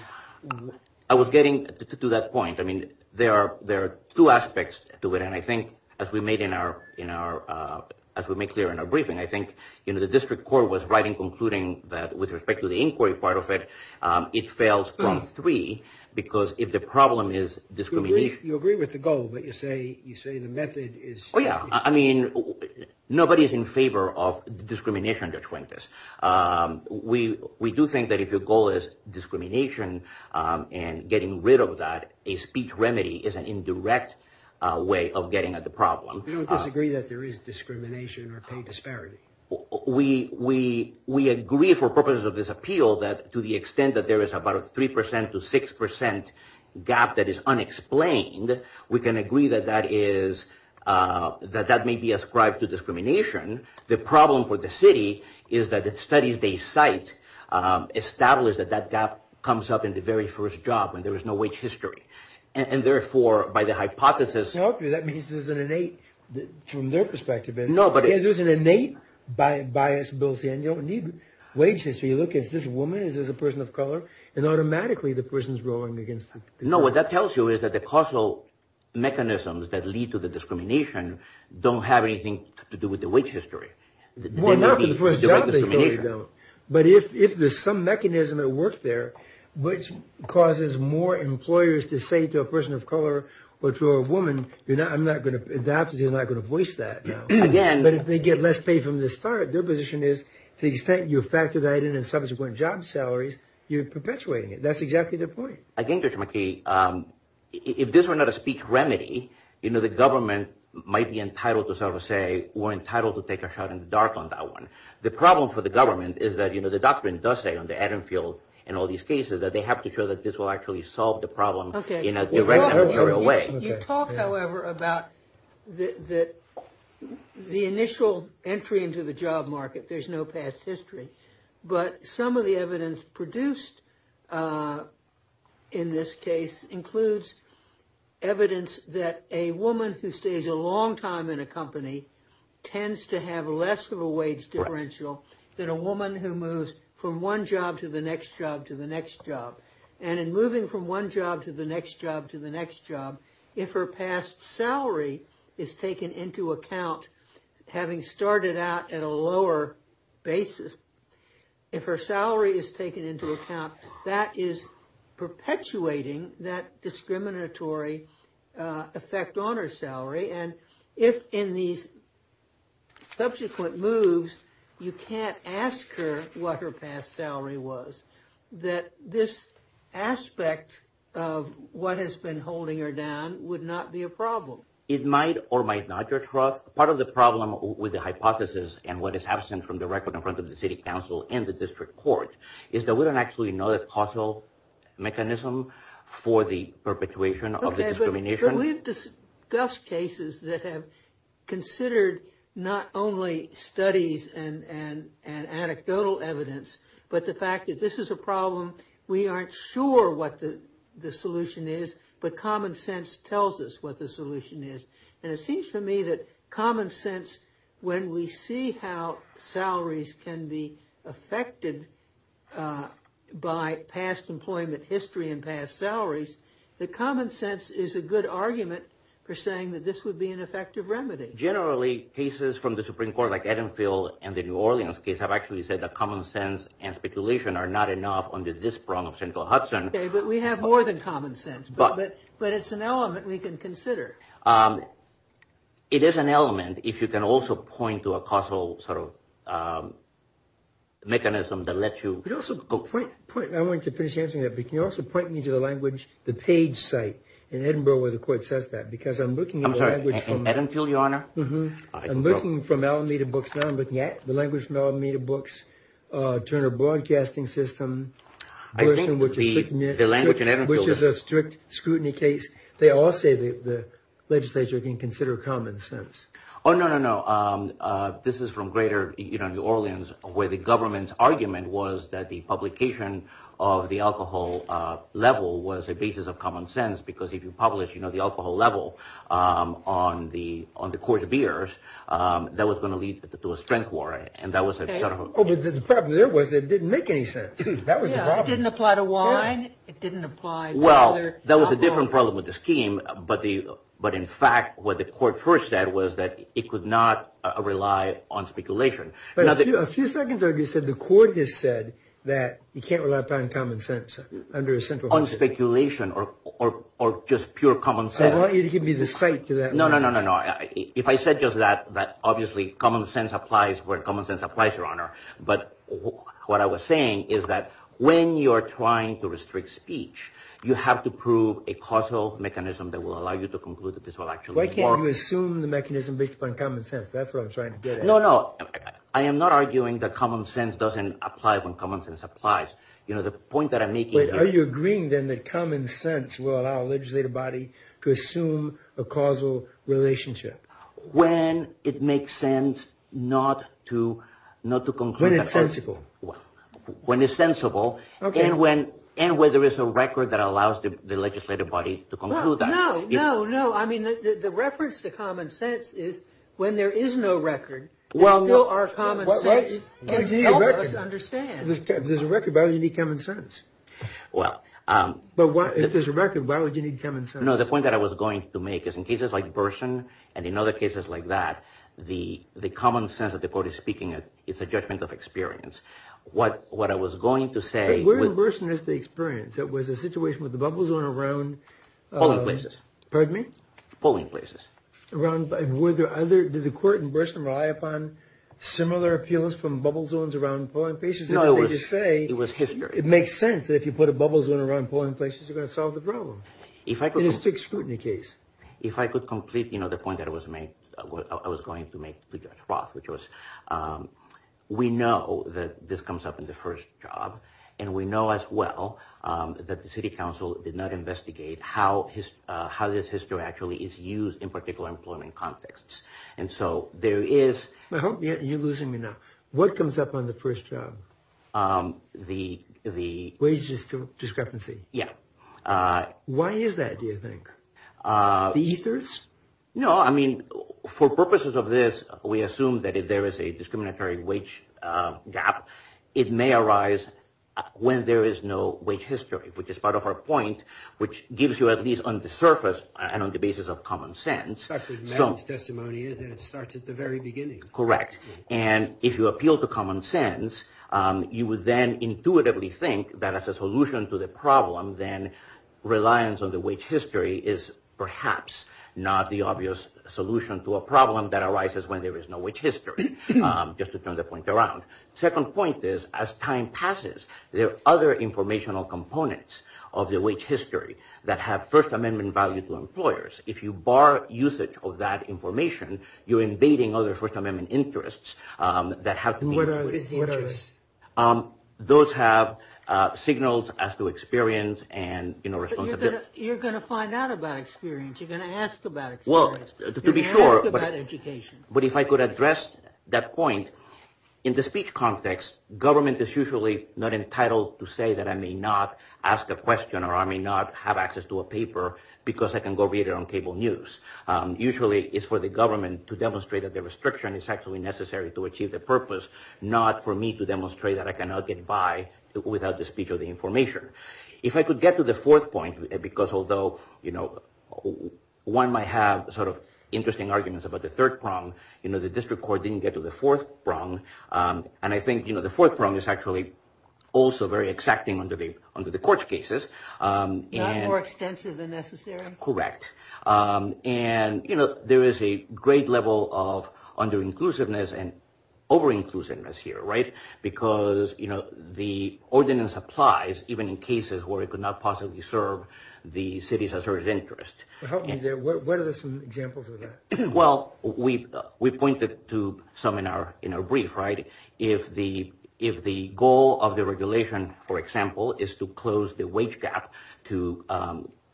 I was getting to that point. I mean, there are two aspects to it, and I think, as we made clear in our briefing, I think the district court was right in concluding that with respect to the inquiry part of it, it fails from three because if the problem is discrimination... You agree with the goal, but you say the method is... Oh, yeah. I mean, nobody is in favor of discrimination that's like this. We do think that if your goal is discrimination and getting rid of that, a speech remedy is an indirect way of getting at the problem. You don't disagree that there is discrimination or co-disparity? We agree, for purposes of this appeal, that to the extent that there is about a 3% to 6% gap that is unexplained, we can agree that that may be ascribed to discrimination. The problem for the city is that the studies they cite establish that that gap comes up in the very first job and there is no wage history, and therefore, by the hypothesis... That means there's an innate... From their perspective, there's an innate bias built in. You don't need wage history. You look at this woman as a person of color and automatically the person is going against... No, what that tells you is that the causal mechanisms that lead to the discrimination don't have anything to do with the wage history. Well, not for the first job, they don't. But if there's some mechanism at work there which causes more employers to say to a person of color or to a woman, perhaps they're not going to voice that. But if they get less pay from the start, their position is, you factor that in and subsequent job salaries, you're perpetuating it. That's exactly the point. I think, Judge McKee, if this were not a speech remedy, the government might be entitled to say or entitled to take a shot in the dark on that one. The problem for the government is that the doctrine does say on the Adam field in all these cases that they have to show that this will actually solve the problem in a direct and material way. You talk, however, about the initial entry into the job market. There's no past history. But some of the evidence produced in this case includes evidence that a woman who stays a long time in a company tends to have less of a wage differential than a woman who moves from one job to the next job to the next job. And in moving from one job to the next job to the next job, if her past salary is taken into account, having started out at a lower basis, if her salary is taken into account, that is perpetuating that discriminatory effect on her salary. And if in the subsequent moves you can't ask her what her past salary was, that this aspect of what has been holding her down would not be a problem. It might or might not. Part of the problem with the hypothesis and what is absent from the record in front of the city council and the district court is that we don't actually know the causal mechanism for the perpetuation of the discrimination. We've discussed cases that have considered not only studies and anecdotal evidence, but the fact that this is a problem, we aren't sure what the solution is, but common sense tells us what the solution is. And it seems to me that common sense, when we see how salaries can be affected by past employment history and past salaries, that common sense is a good argument for saying that this would be an effective remedy. Generally, cases from the Supreme Court like Edenfield and the New Orleans case have actually said that common sense and speculation are not enough under this problem of Central Hudson. We have more than common sense, but it's an element we can consider. It is an element if you can also point to a causal mechanism that lets you... I want to finish answering that, but can you also point me to the language, the page site in Edinburgh where the court says that? I'm sorry, in Edenfield, Your Honor? I'm looking for Melameda books now. I'm looking at the language Melameda books, Turner Broadcasting System, which is a strict scrutiny case. They all say the legislature can consider common sense. Oh, no, no, no. This is from Greater New Orleans where the government's argument was that the publication of the alcohol level was a basis of common sense, because if you publish the alcohol level on the Court of Ears, that was going to lead to a strength warrant. Oh, but the problem there was it didn't make any sense. It didn't apply to wine. Well, that was a different problem with the scheme, but in fact what the court first said was that it could not rely on speculation. But a few seconds ago you said the court just said that you can't rely on common sense under Central Hudson. On speculation or just pure common sense. I want you to give me the site for that. No, no, no. If I said just that, obviously common sense applies where common sense applies, Your Honor. But what I was saying is that when you're trying to restrict speech, you have to prove a causal mechanism that will allow you to conclude that this will actually work. Why can't you assume the mechanism based upon common sense? That's what I'm trying to get at. No, no. I am not arguing that common sense doesn't apply when common sense applies. You know, the point that I'm making... Are you agreeing then that common sense will allow a legislative body to assume a causal relationship? When it makes sense not to conclude... When it's sensible. When it's sensible. Okay. And when there is a record that allows the legislative body to conclude that. No, no, no. I mean, the reference to common sense is when there is no record, there still are common senses. Well, what if you need a record? Help us understand. If there's a record, why would you need common sense? Well... If there's a record, why would you need common sense? No, the point that I was going to make is in cases like Burson and in other cases like that, the common sense that the court is speaking of is the judgment of experience. What I was going to say... Where in Burson is the experience? There was a situation with the bubble zone around... Polling places. Pardon me? Polling places. Around... Did the court in Burson rely upon similar appeals from bubble zones around polling places? No, it was history. It makes sense that if you put a bubble zone around polling places, you're going to solve the problem. If I could... In a strict scrutiny case. If I could complete the point that I was going to make to Judge Roth, which was we know that this comes up in the first job and we know as well that the city council did not investigate how this history actually is used in particular employment contexts. And so there is... You're losing me now. What comes up on the first job? The... Wages discrepancy. Yeah. Why is that, do you think? The ethers? No, I mean, for purposes of this, we assume that if there is a discriminatory wage gap, it may arise when there is no wage history, which is part of our point, which gives you at least on the surface and on the basis of common sense... That's what Maddie's testimony is, and it starts at the very beginning. Correct. And if you appeal to common sense, you would then intuitively think that as a solution to the problem, then reliance on the wage history is perhaps not the obvious solution to a problem that arises when there is no wage history, just to turn the point around. Second point is, as time passes, there are other informational components of the wage history that have First Amendment value to employers. If you bar usage of that information, you're invading other First Amendment interests that have... What are the interests? Those have signals as to experience and... You're going to find out about experience. You're going to ask about experience. To be sure... You're going to ask about education. But if I could address that point, in the speech context, government is usually not entitled to say that I may not ask a question or I may not have access to a paper because I can go read it on cable news. Usually, it's for the government to demonstrate that the restriction is actually necessary to achieve the purpose, not for me to demonstrate that I cannot get by without the speech or the information. If I could get to the fourth point, because although one might have sort of interesting arguments about the third prong, the district court didn't get to the fourth prong, and I think the fourth prong is actually also very exacting under the court cases. Not more extensive than necessary? Correct. And there is a great level of under-inclusiveness and over-inclusiveness here, right? Because the ordinance applies even in cases where it could not possibly serve the city's asserted interest. What are some examples of that? Well, we pointed to some in our brief, right? If the goal of the regulation, for example, is to close the wage gap to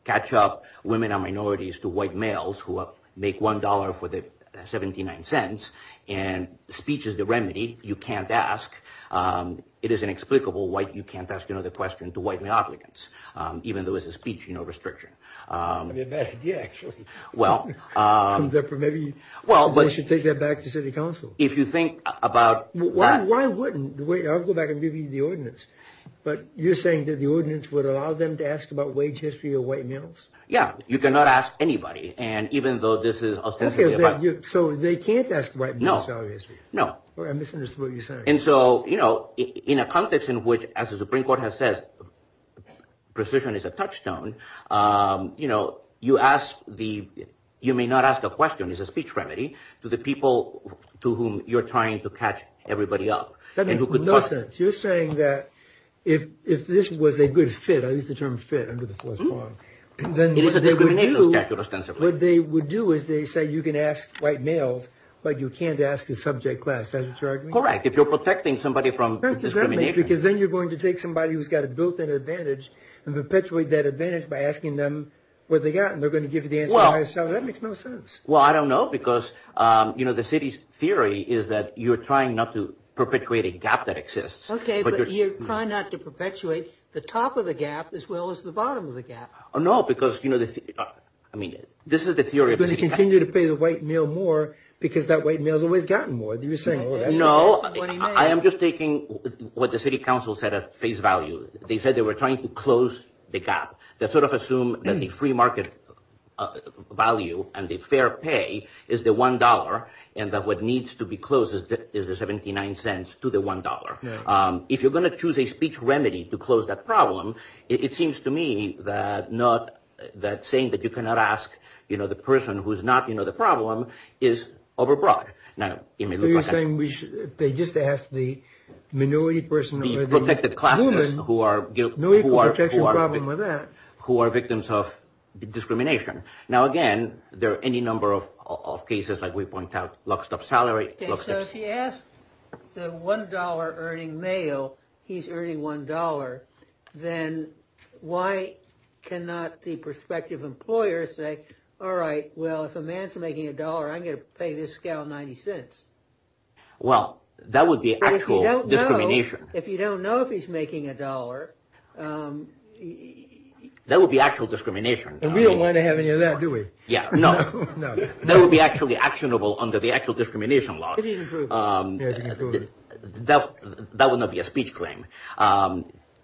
catch up women and minorities to white males who make $1.79 and speech is the remedy, you can't ask. It is inexplicable why you can't ask another question to white male applicants, even though it's a speech restriction. That's a bad idea, actually. Maybe we should take that back to city council. If you think about that... Why wouldn't... Wait, I'll go back and give you the ordinance. But you're saying that the ordinance would allow them to ask about wage history of white males? Yeah, you cannot ask anybody, and even though this is ostensibly about... So they can't ask white males, obviously. No, no. I misunderstood what you said. And so, you know, in a context in which, as the Supreme Court has said, precision is a touchstone, you know, you ask the... You may not ask a question. It's a speech remedy to the people to whom you're trying to catch everybody up. That makes no sense. You're saying that if this was a good fit, I use the term fit under the first one, and then... It is a good fit. What they would do is they say you can ask white males, but you can't ask a subject class. Does that make sense? Correct. If you're protecting somebody from discrimination... Because then you're going to take somebody who's got a built-in advantage and perpetuate that advantage by asking them what they got, and they're going to give you the answer by itself. That makes no sense. Well, I don't know, because, you know, the city's theory is that you're trying not to perpetuate a gap that exists. Okay, but you're trying not to perpetuate the top of the gap as well as the bottom of the gap. No, because, you know... I mean, this is the theory of the city. You continue to pay the white male more because that white male's always gotten more, do you see? No, I am just taking what the city council said at face value. They said they were trying to close the gap. They sort of assumed that the free market value and the fair pay is the $1, and that what needs to be closed is the $0.79 to the $1. If you're going to choose a speech remedy to close that problem, it seems to me that saying that you cannot ask, you know, the person who's not, you know, the problem is overbroad. You're saying they just ask the minority person... The affected classes who are... No equal protection problem with that. ...who are victims of discrimination. Now, again, there are any number of cases like we point out, lockstep salary, lockstep... Yeah, so if you ask the $1 earning male he's earning $1, then why cannot the prospective employer say, all right, well, if a man's making $1, I'm going to pay this scale $0.90. Well, that would be actual discrimination. If you don't know if he's making $1... That would be actual discrimination. And we don't want to have any of that, do we? Yeah, no. No. That would be actually actionable under the actual discrimination law. That would not be a speech claim.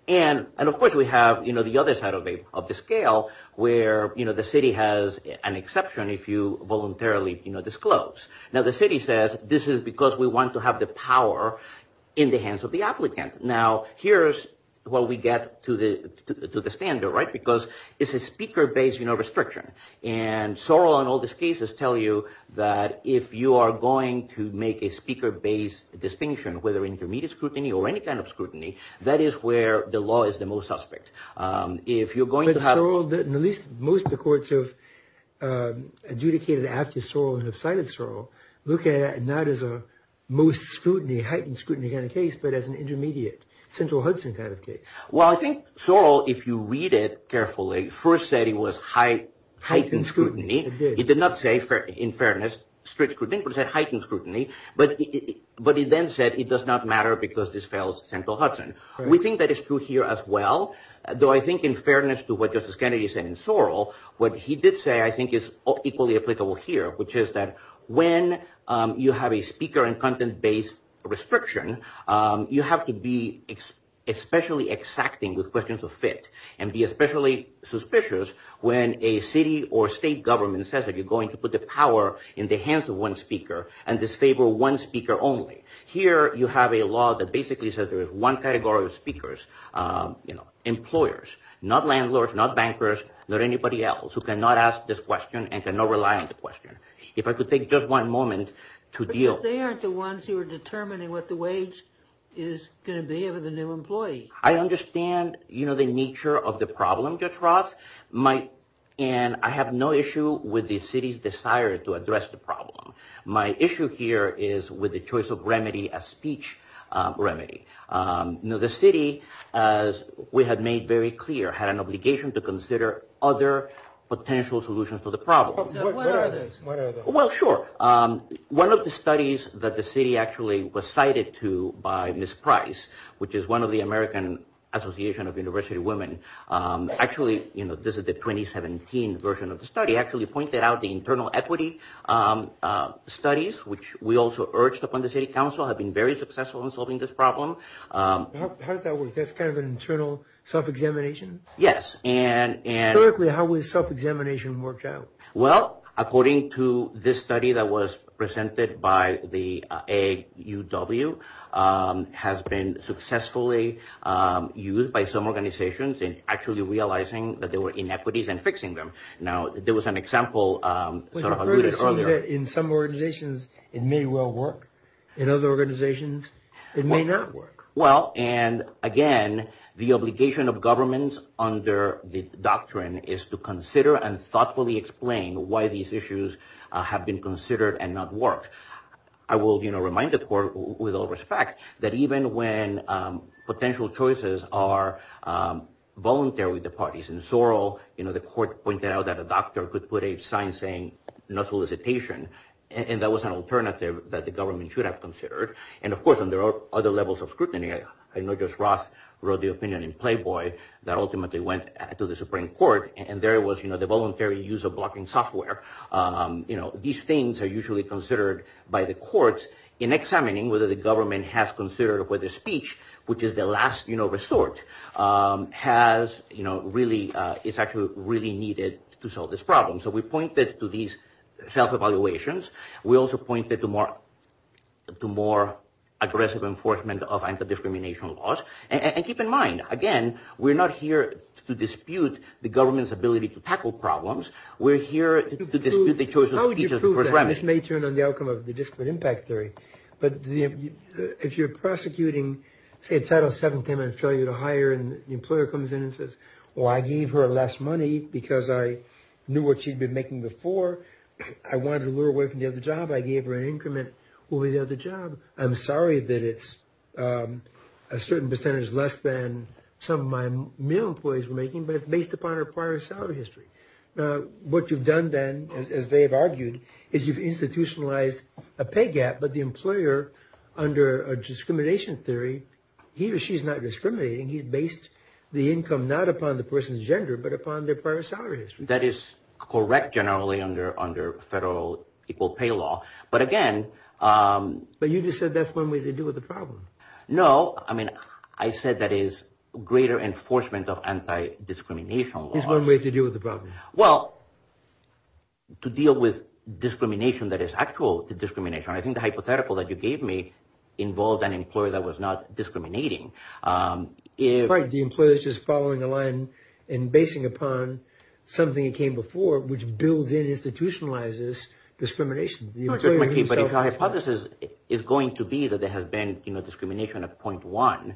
And, of course, we have, you know, the other side of the scale where, you know, the city has an exception if you voluntarily disclose. Now, the city says, this is because we want to have the power in the hands of the applicant. Now, here's where we get to the standard, right? Because it's a speaker-based restriction. And Sorel and all these cases tell you that if you are going to make a speaker-based distinction, whether intermediate scrutiny or any kind of scrutiny, that is where the law is the most suspect. But Sorel, at least most of the courts have adjudicated after Sorel and have cited Sorel, look at it not as a most scrutiny, heightened scrutiny kind of case, but as an intermediate, central Hudson kind of case. Well, I think Sorel, if you read it carefully, first said it was heightened scrutiny. It did. It did not say, in fairness, strict scrutiny, but it said heightened scrutiny. But he then said it does not matter because this spells central Hudson. We think that is true here as well, though I think in fairness to what Justice Kennedy said in Sorel, what he did say, I think, is equally applicable here, which is that when you have a speaker- and content-based restriction, you have to be especially exacting with questions of fit and be especially suspicious when a city or state government says that you're going to put the power in the hands of one speaker and disable one speaker only. Here, you have a law that basically says there is one category of speakers, you know, employers, not landlords, not bankers, not anybody else, who cannot ask this question and cannot rely on the question. If I could take just one moment to deal- But they aren't the ones who are determining what the wage is going to be of the new employee. I understand, you know, the nature of the problem, Judge Ross, and I have no issue with the city's desire to address the problem. My issue here is with the choice of remedy, a speech remedy. You know, the city, as we have made very clear, had an obligation to consider other potential solutions to the problem. Where are they? Well, sure. One of the studies that the city actually was cited to by Ms. Price, which is one of the American Association of University Women, actually, you know, this is the 2017 version of the study, actually pointed out the internal equity studies, which we also urged upon the city council have been very successful in solving this problem. How does that work? That's kind of an internal self-examination? Yes, and- Theoretically, how would self-examination work out? Well, according to this study that was presented by the AUW, has been successfully used by some organizations in actually realizing that there were inequities and fixing them. Now, there was an example- But it seems that in some organizations it may well work. In other organizations, it may not work. Well, and again, the obligation of governments under the doctrine is to consider and thoughtfully explain why these issues have been considered and not work. I will, you know, remind the court with all respect that even when potential choices are voluntary with the parties. In Sorrel, you know, the court pointed out that a doctor could put a sign saying no solicitation, and that was an alternative that the government should have considered. And of course, there are other levels of scrutiny. I noticed Ross wrote the opinion in Playboy that ultimately went to the Supreme Court, and there was, you know, the voluntary use of blocking software. You know, these things are usually considered by the courts in examining whether the government has considered whether speech, which is the last, you know, resort, has, you know, really- is actually really needed to solve this problem. So we pointed to these self-evaluations. We also pointed to more- to more aggressive enforcement of anti-discrimination laws. And keep in mind, again, we're not here to dispute the government's ability to tackle problems. We're here to dispute the choice of speech as the first remedy. This may turn on the outcome of the disparate impact theory, but if you're prosecuting, say Title VII came out of failure to hire and the employer comes in and says, well, I gave her less money because I knew what she'd been making before. I wanted to lure her away from the other job. I gave her an increment over the other job. I'm sorry that it's a certain percentage less than some of my male employees were making, but it's based upon her prior salary history. What you've done then, as they have argued, is you've institutionalized a pay gap, but the employer, under a discrimination theory, he or she's not discriminating. He's based the income not upon the person's gender, but upon their prior salary history. That is correct, generally, under federal equal pay law. But again... But you just said that's one way to deal with the problem. No. I mean, I said that is greater enforcement of anti-discrimination law. That's one way to deal with the problem. Well, to deal with discrimination that is actual discrimination, I think the hypothetical that you gave me involved an employer that was not discriminating. Right. The employer is just following the line and basing upon something that came before, which builds in and institutionalizes discrimination. But my hypothesis is going to be that there has been discrimination of 0.1.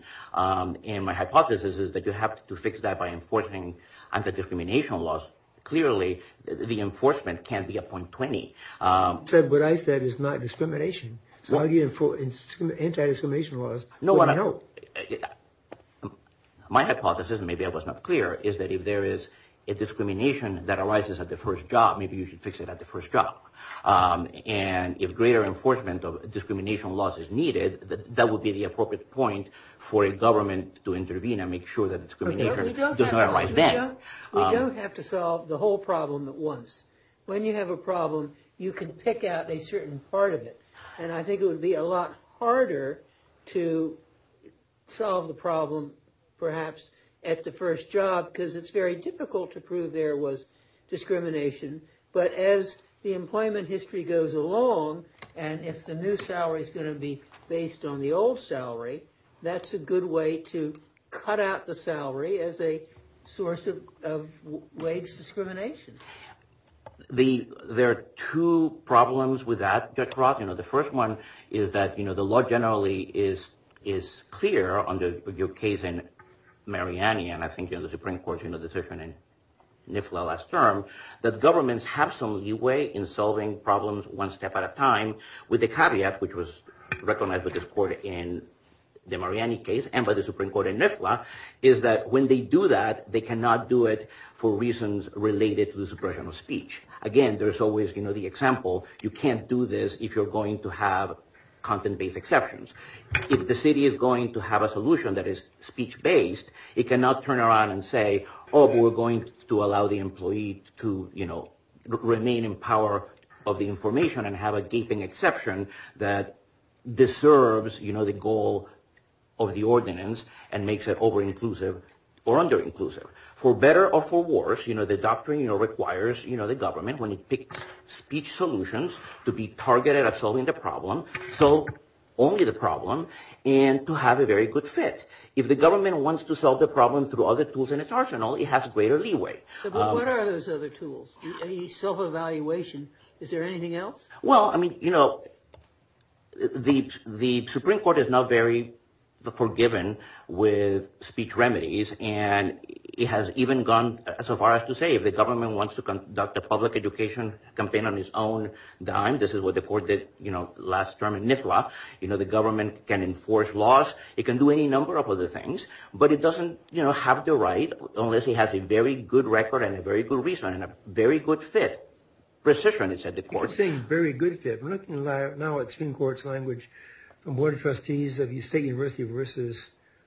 And my hypothesis is that you have to fix that by enforcing anti-discrimination laws. Clearly, can't be at 0.20. Ted, what I said is not discrimination. Why do you enforce anti-discrimination laws when you know? My hypothesis, maybe I was not clear, is that if there is a discrimination that arises at the first job, maybe you should fix it at the first job. And if greater enforcement of discrimination laws is needed, that would be the appropriate point for a government to intervene and make sure that discrimination does not arise then. We don't have to solve the whole problem at once. When you have a problem, you can pick out a certain part of it. And I think it would be a lot harder to solve the problem, perhaps, at the first job, because it's very difficult to prove there was discrimination. But as the employment history goes along, and if the new salary is going to be based on the old salary, that's a good way to cut out the salary as a source of wage discrimination. There are two problems with that, Judge Roth. The first one is that the law generally is clear under your case in Mariani, and I think in the Supreme Court in the decision in NIFLA last term, that governments have some leeway in solving problems one step at a time, with the caveat, which was recognized by the Supreme Court in the Mariani case, and by the Supreme Court in NIFLA, is that when they do that, they cannot do it for reasons related to the suppression of speech. Again, there's always the example, you can't do this if you're going to have content-based exceptions. If the city is going to have a solution that is speech-based, it cannot turn around and say, oh, but we're going to allow the employee to remain in power of the information and have a deepening exception that deserves the goal of the ordinance and makes it over-inclusive or under-inclusive. For better or for worse, the doctrine requires the government, when it picks speech solutions, at solving the problem, solve only the problem, and to have a very good fit. If the government wants to solve the problem through other tools in its arsenal, it has greater leeway. But what are those other tools? Any self-evaluation? Is there anything else? Well, I mean, you know, the Supreme Court is not very forgiving with speech remedies, and it has even gone so far as to say if the government wants to conduct a public education campaign on its own dime, this is what the court did last term in NIFLA, the government can enforce laws, it can do any number of other things, but it doesn't, you know, have the right, unless it has a very good record and a very good reason and a very good fit. Precision, it said the court. You're saying very good fit. We're looking now at Supreme Court's language on board of trustees of the State University versus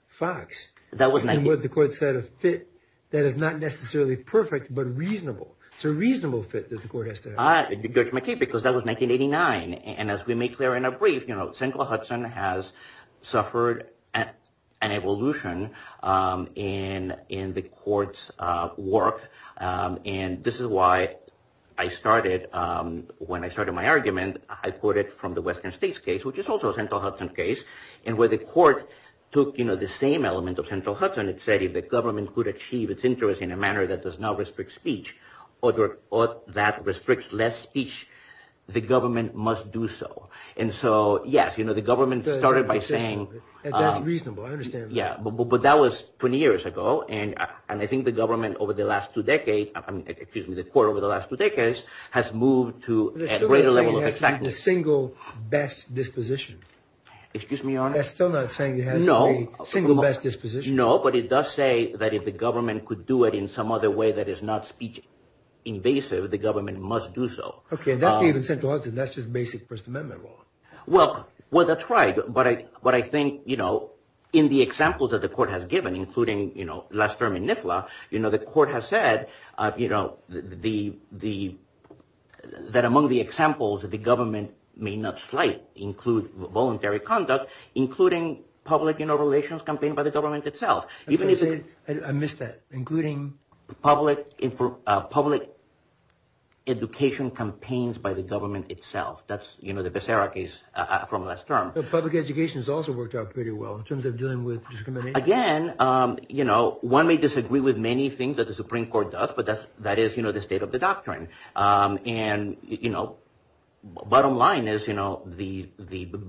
Fox. That was 1989. And what the court said, a fit that is not necessarily perfect but reasonable. It's a reasonable fit that the court has to have. That's my case because that was 1989. And as we make clear in our brief, you know, Sandra Hudson has suffered an evolution in the court's work. And this is why I started, when I started my argument, I quoted from the Western States case, which is also a Sandra Hudson case, and where the court took, you know, the same element of Sandra Hudson. It said if the government could achieve its interest in a manner that does not restrict speech or that restricts less speech, the government must do so. And so, yes, you know, the government started by saying... And that's reasonable. I understand that. Yeah, but that was 20 years ago. And I think the government over the last two decades, excuse me, the court over the last two decades has moved to a greater level of effectiveness. It's still not saying it has a single best disposition. Excuse me, Your Honor? It's still not saying it has a single best disposition. No, but it does say that if the government could do it in some other way that is not speech-invasive, the government must do so. Okay, and that's the basic First Amendment law. Well, that's right. But I think, you know, in the examples that the court has given, including, you know, last term in NIFLA, you know, the court has said, you know, that among the examples that the government may not slight include voluntary conduct, including public relations campaigned by the government itself. I missed that. Including... Public education campaigns by the government itself. That's, you know, the Becerra case from last term. But public education has also worked out pretty well in terms of dealing with discrimination. Again, you know, one may disagree with many things that the Supreme Court does, but that is, you know, the state of the doctrine. And, you know, bottom line is, you know, the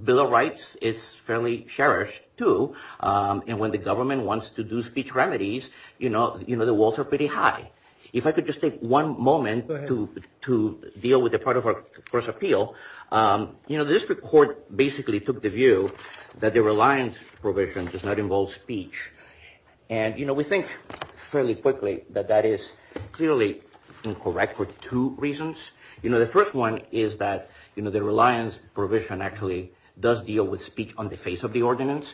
Bill of Rights is fairly cherished, too. And when the government wants to do speech remedies, you know, the walls are pretty high. If I could just take one moment to deal with the part of our first appeal. You know, the district court basically took the view that the reliance provision does not involve speech. And, you know, we think fairly quickly that that is clearly incorrect for two reasons. You know, the first one is that, you know, the reliance provision actually does deal with speech on the face of the ordinance.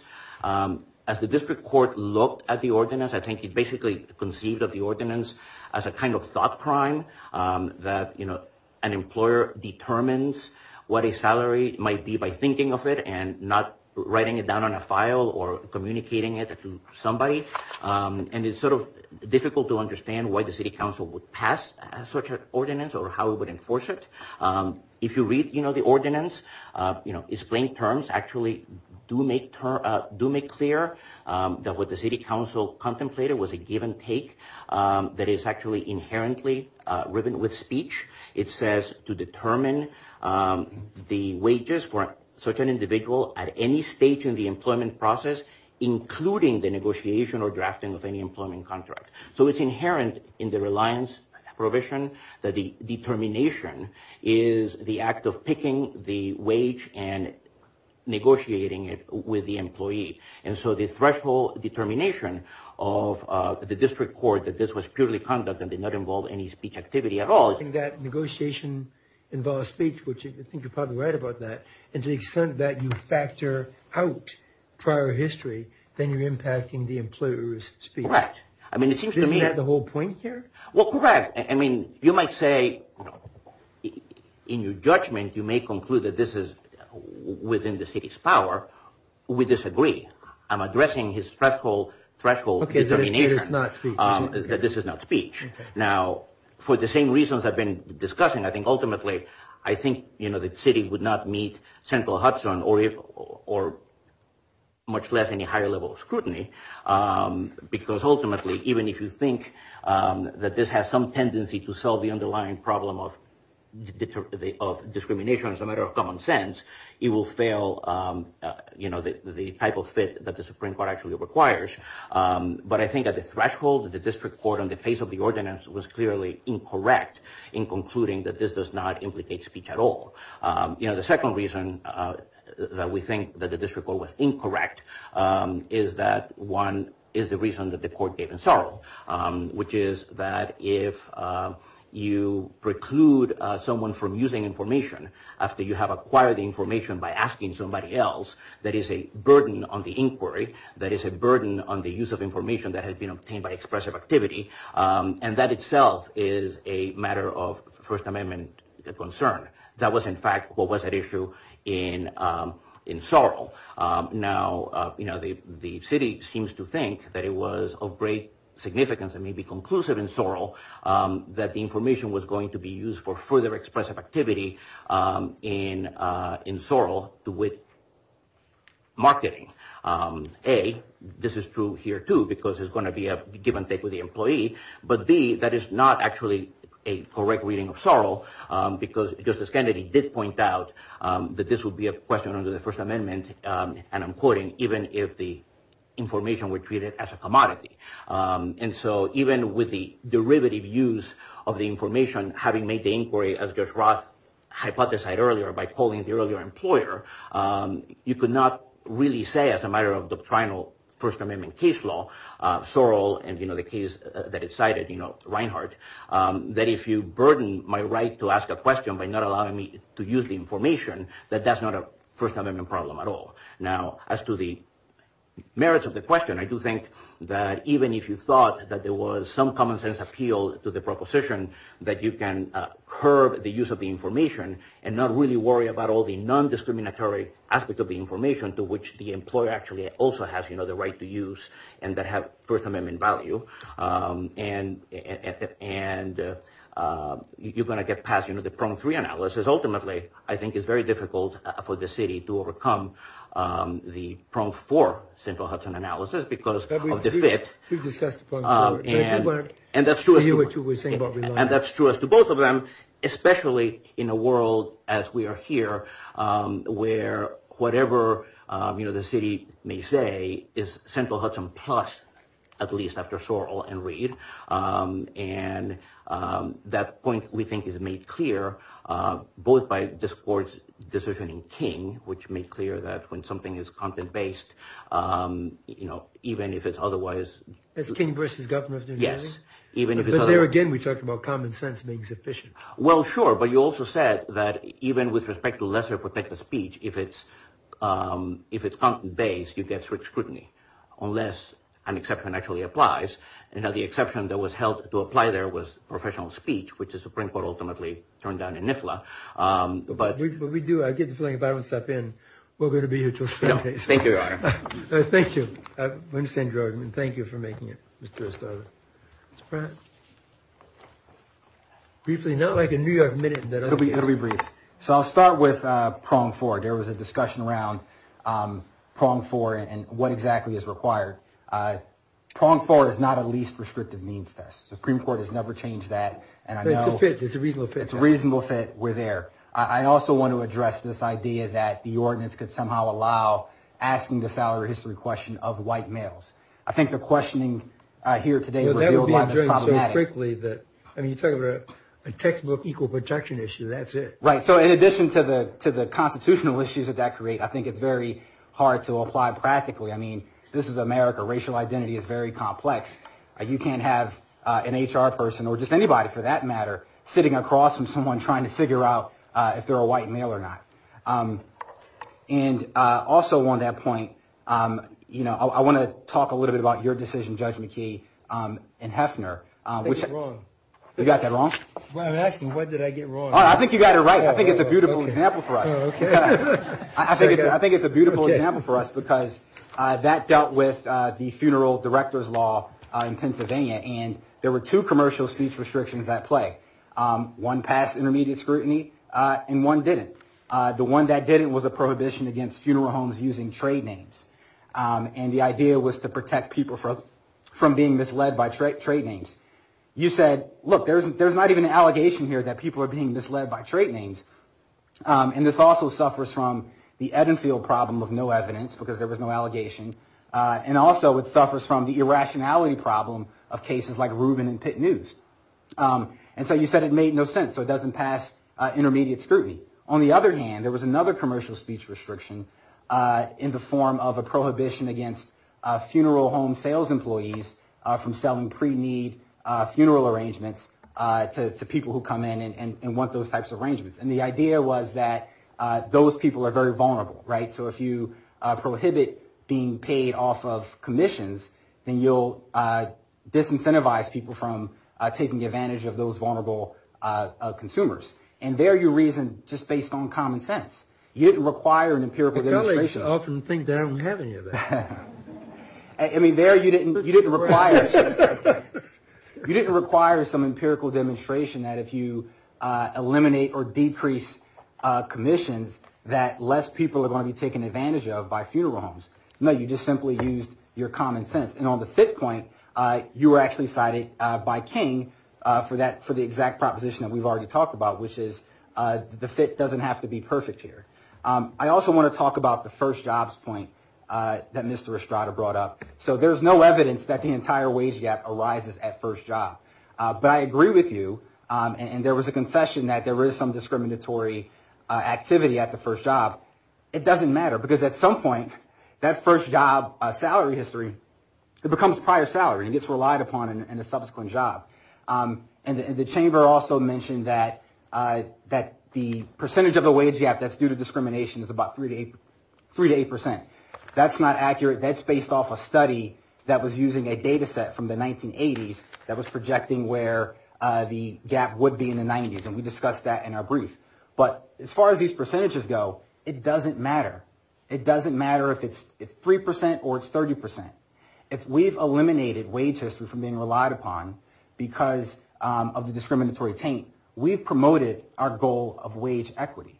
As the district court looked at the ordinance, I think it basically conceived of the ordinance as a kind of thought crime that, you know, an employer determines what a salary might be by thinking of it and not writing it down on a file or communicating it to somebody. And it's sort of difficult to understand why the city council would pass such an ordinance or how it would enforce it. If you read, you know, the ordinance, you know, its plain terms actually do make clear that what the city council contemplated was a give and take that is actually inherently written with speech. It says to determine the wages for a certain individual at any stage in the employment process, including the negotiation or drafting of any employment contract. So it's inherent in the reliance provision that the determination is the act of picking the wage and negotiating it with the employee. And so the threshold determination of the district court that this was purely conduct and did not involve any speech activity at all. I think that negotiation involved speech, which I think you're probably right about that. And to the extent that you factor out prior history, then you're impacting the employer's speech. Right. I mean, it seems to me... Isn't that the whole point here? Well, correct. I mean, you might say in your judgment, you may conclude that this is within the city's power. We disagree. I'm addressing his threshold determination that this is not speech. Now, for the same reasons I've been discussing, I think ultimately, I think the city would not meet central Hudson or much less any higher level of scrutiny because ultimately, even if you think that this has some tendency to solve the underlying problem of discrimination as a matter of common sense, it will fail the type of fit that the Supreme Court actually requires. But I think at the threshold, the district court on the face of the ordinance was clearly incorrect in concluding that this does not implicate speech at all. You know, the second reason that we think that the district court was incorrect is that one is the reason that the court gave in sorrow, which is that if you preclude someone from using information after you have acquired the information by asking somebody else, that is a burden on the inquiry, that is a burden on the use of information that has been obtained by expressive activity, and that itself is a matter of First Amendment concern. That was in fact what was at issue in sorrow. Now, you know, the city seems to think that it was of great significance and maybe conclusive in sorrow that the information was going to be used for further expressive activity in sorrow with marketing. A, this is true here too because it's going to be a give and take with the employee, but B, that is not actually a correct reading of sorrow because Justice Kennedy did point out that this would be a question under the First Amendment and I'm quoting, even if the information were treated as a commodity. And so even with the derivative use of the information, having made the inquiry as Judge Roth hypothesized earlier by calling the earlier employer, you could not really say as a matter of the primal First Amendment case law, sorrow and the case that it cited, you know, Reinhart, that if you burden my right to ask a question by not allowing me to use the information, that that's not a First Amendment problem at all. Now, as to the merits of the question, I do think that even if you thought that there was some common sense appeal to the proposition that you can curb the use of the information and not really worry about all the non-discriminatory aspect of the information to which the employer actually also has, you know, the right to use and that have First Amendment value, and you're going to get past, you know, the pronged three analysis. Ultimately, I think it's very difficult for the city to overcome the pronged four central Hudson analysis because of the fit. And that's true. And that's true as to both of them, especially in a world as we are here where whatever, you know, the city may say is central Hudson plus at least after Sorrell and Reid. And that point, we think, is made clear both by this court's decision in King, which made clear that when something is content-based, you know, even if it's otherwise... At King v. Governor of New Jersey? Yes. But there again, we talked about common sense being sufficient. Well, sure. But you also said that even with respect to lesser protective speech, if it's content-based, you get strict scrutiny unless an exception actually applies. And that the exception that was held to apply there was professional speech, which the Supreme Court ultimately turned down in NIFLA. But we do. I get the feeling if I don't step in, we're going to be here till Sunday. Thank you, Your Honor. Thank you. I understand your argument. Thank you for making it, Mr. Estrada. Briefly, not like a New York Minute. It'll be brief. So I'll start with pronged four. There was a discussion around pronged four and what exactly is required. Pronged four is not a least prescriptive means test. The Supreme Court has never changed that. It's a reasonable fit. It's a reasonable fit. We're there. I also want to address this idea that the ordinance could somehow allow asking the salary history question of white males. I think the questioning here today would be problematic. You're talking about a textbook equal protection issue. That's it. In addition to the constitutional issues that that creates, I think it's very hard to apply practically. I mean, this is America. Racial identity is very complex. You can't have an HR person or just anybody for that matter sitting across from someone trying to figure out if they're a white male or not. And also on that point, I want to talk a little bit about your decision, Judge McKee, and Heffner. I think it's wrong. You got that wrong? When I'm asking, what did I get wrong? I think you got it right. I think it's a beautiful example for us. I think it's a beautiful example for us because that dealt with the funeral director's law in Pennsylvania, and there were two commercial speech restrictions at play. One passed intermediate scrutiny and one didn't. The one that didn't was a prohibition against funeral homes using trade names. And the idea was to protect people from being misled by trade names. You said, look, there's not even an allegation here that people are being misled by trade names. And this also suffers from the Edenfield problem of no evidence because there was no allegation. And also, it suffers from the irrationality problem of cases like Rubin and Pitt News. And so you said it made no sense, so it doesn't pass intermediate scrutiny. On the other hand, there was another commercial speech restriction in the form of a prohibition against funeral home sales employees from selling pre-need funeral arrangements to people who come in and want those types of arrangements. And the idea was that those people are very vulnerable, right? So if you prohibit being paid off of commissions, then you'll disincentivize people from taking advantage of those vulnerable consumers. And there you reason just based on common sense. You didn't require an empirical demonstration. I mean, there, you didn't require you didn't require some empirical demonstration that if you eliminate or decrease commissions that less people are going to be taken advantage of by funeral homes. No, you just simply used your common sense. And on the fit point, you were actually cited by King for the exact proposition that we've already talked about, which is the fit doesn't have to be perfect here. I also want to talk about the first jobs point that Mr. Estrada brought up. So there's no evidence that the entire wage gap arises at first job. But I agree with you, and there was a confession that there was some discriminatory activity at the first job. It doesn't matter because at some point that first job salary history it becomes prior salary and gets relied upon in the subsequent job. And the chamber also mentioned that that the percentage of the wage gap that's due to discrimination is about three to eight three to eight percent. That's not accurate. That's based off a study that was using a data set from the 1980s that was projecting where the gap would be in the 90s. And we discussed that in our brief. But as far as these percentages go it doesn't matter. It doesn't matter if it's three percent or it's 30 percent. If we've eliminated wage history from being relied upon because of the discriminatory taint we've promoted our goal of wage equity.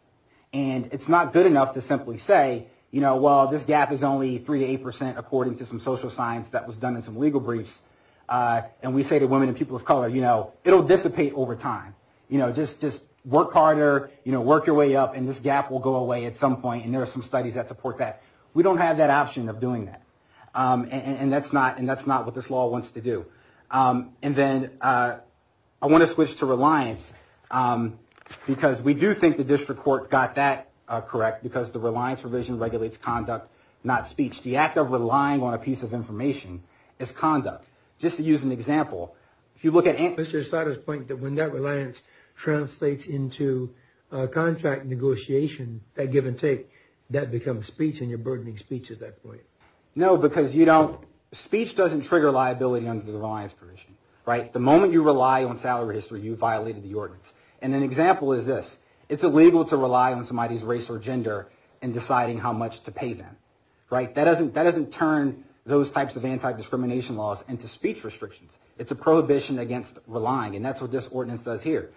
And it's not good enough to simply say you know well this gap is only three to eight percent according to some social science that was done in some legal briefs. And we say to women and people of color you know it'll dissipate over time. You know just work harder you know work your way up and this gap will go away at some point and there are some studies that support that. We don't have that option of doing that. And that's not and that's not what this law wants to do. And then I want to switch to reliance because we do think the district court got that correct because the reliance provision regulates conduct not speech. The act of relying on a piece of information is conduct. Just to use an example if you look at Mr. Sutter's point that when that reliance translates into contract negotiation that give and take that becomes speech and you're burdening speech at that point. No because you don't speech doesn't trigger liability under the reliance provision. Right. The moment you rely on salary history you violated the ordinance. And an example is this. It's illegal to rely on somebody's race or gender in deciding how much to pay them. Right. That doesn't that doesn't turn those types of anti-discrimination laws into speech restrictions. It's a prohibition against relying and that's what this ordinance does here.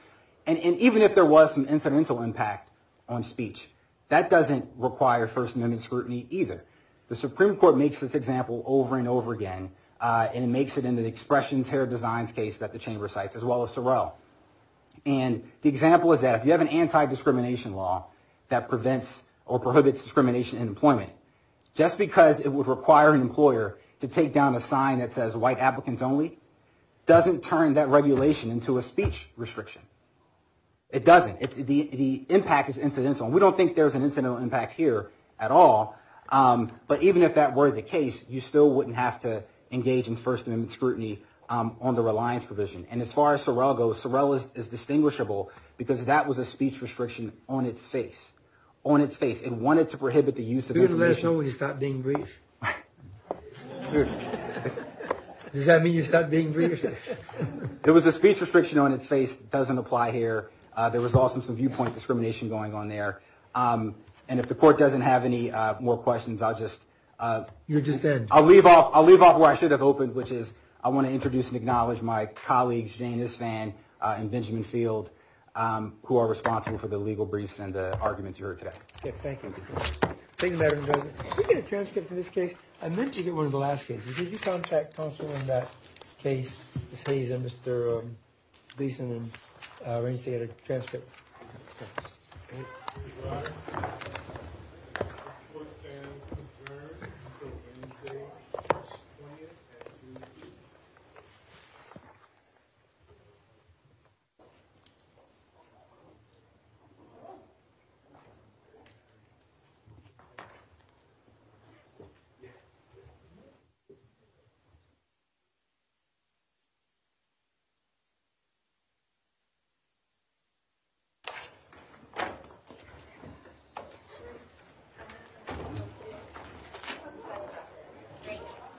And even if there was some incidental impact on speech that doesn't require first amendment scrutiny either. The Supreme Court makes this example over and over again and it makes it in the expression terror design case that the chamber cites as well as Sorrell. And the example is that if you have an anti-discrimination law that prevents or prohibits discrimination in employment just because it would require an employer to take down a sign that says white applicants only doesn't turn that regulation into a speech restriction. It doesn't. The impact is incidental. We don't think there's an incidental impact here at all but even if that were the case you still wouldn't have to engage in first amendment scrutiny on the reliance provision. And as far as Sorrell goes Sorrell is distinguishable because that was a speech restriction on its face. On its face. It wanted to prohibit the use of this provision. You're going to let somebody stop being race? Does that mean you stop being race? There was a speech restriction on its face that doesn't apply here. There was also some viewpoint discrimination going on there. And if the court doesn't have any more questions I'll just You were just there. I'll leave off where I should have opened which is I want to introduce and acknowledge my colleagues Jane Isfan and Benjamin Field who are responsible for the legal briefs and the arguments you heard today. Thank you. Thank you Madam President. Did you get a transcript of this case? I meant you did one of the last cases. Did you contact counsel in that case to say that Mr. Beeson and Rincey had a transcript? Yes. Okay. Thank you.